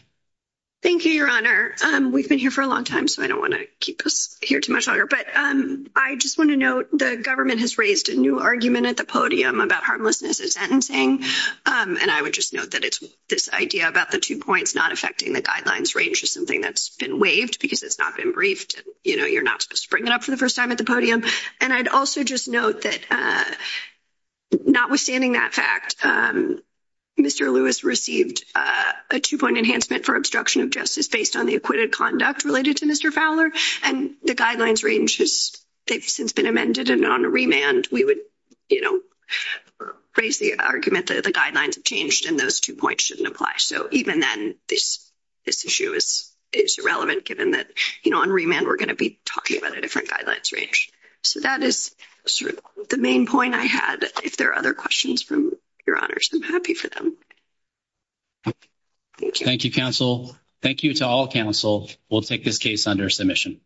thank you your honor and we've been here for a long time so I don't want to keep us here too much longer but I just want to note the government has raised a new argument at the podium about harmlessness is sentencing and I would just note that it's this idea about the two points not affecting the guidelines range is something that's been waived because it's not been briefed you know you're not spring it up for the first time at the podium and I'd also just note that notwithstanding that fact mr. Lewis received a two-point enhancement for obstruction of justice based on the acquitted conduct related to mr. Fowler and the guidelines range it's been amended and on the remand we would you know raise the argument that the guidelines have changed and those two points shouldn't apply so even then this issue is relevant given that you know on remand we're going to be talking about a different violence range so that is the main point I had if there are other questions from your honors and happy for them thank you counsel thank you to all counsel we'll take this case under submission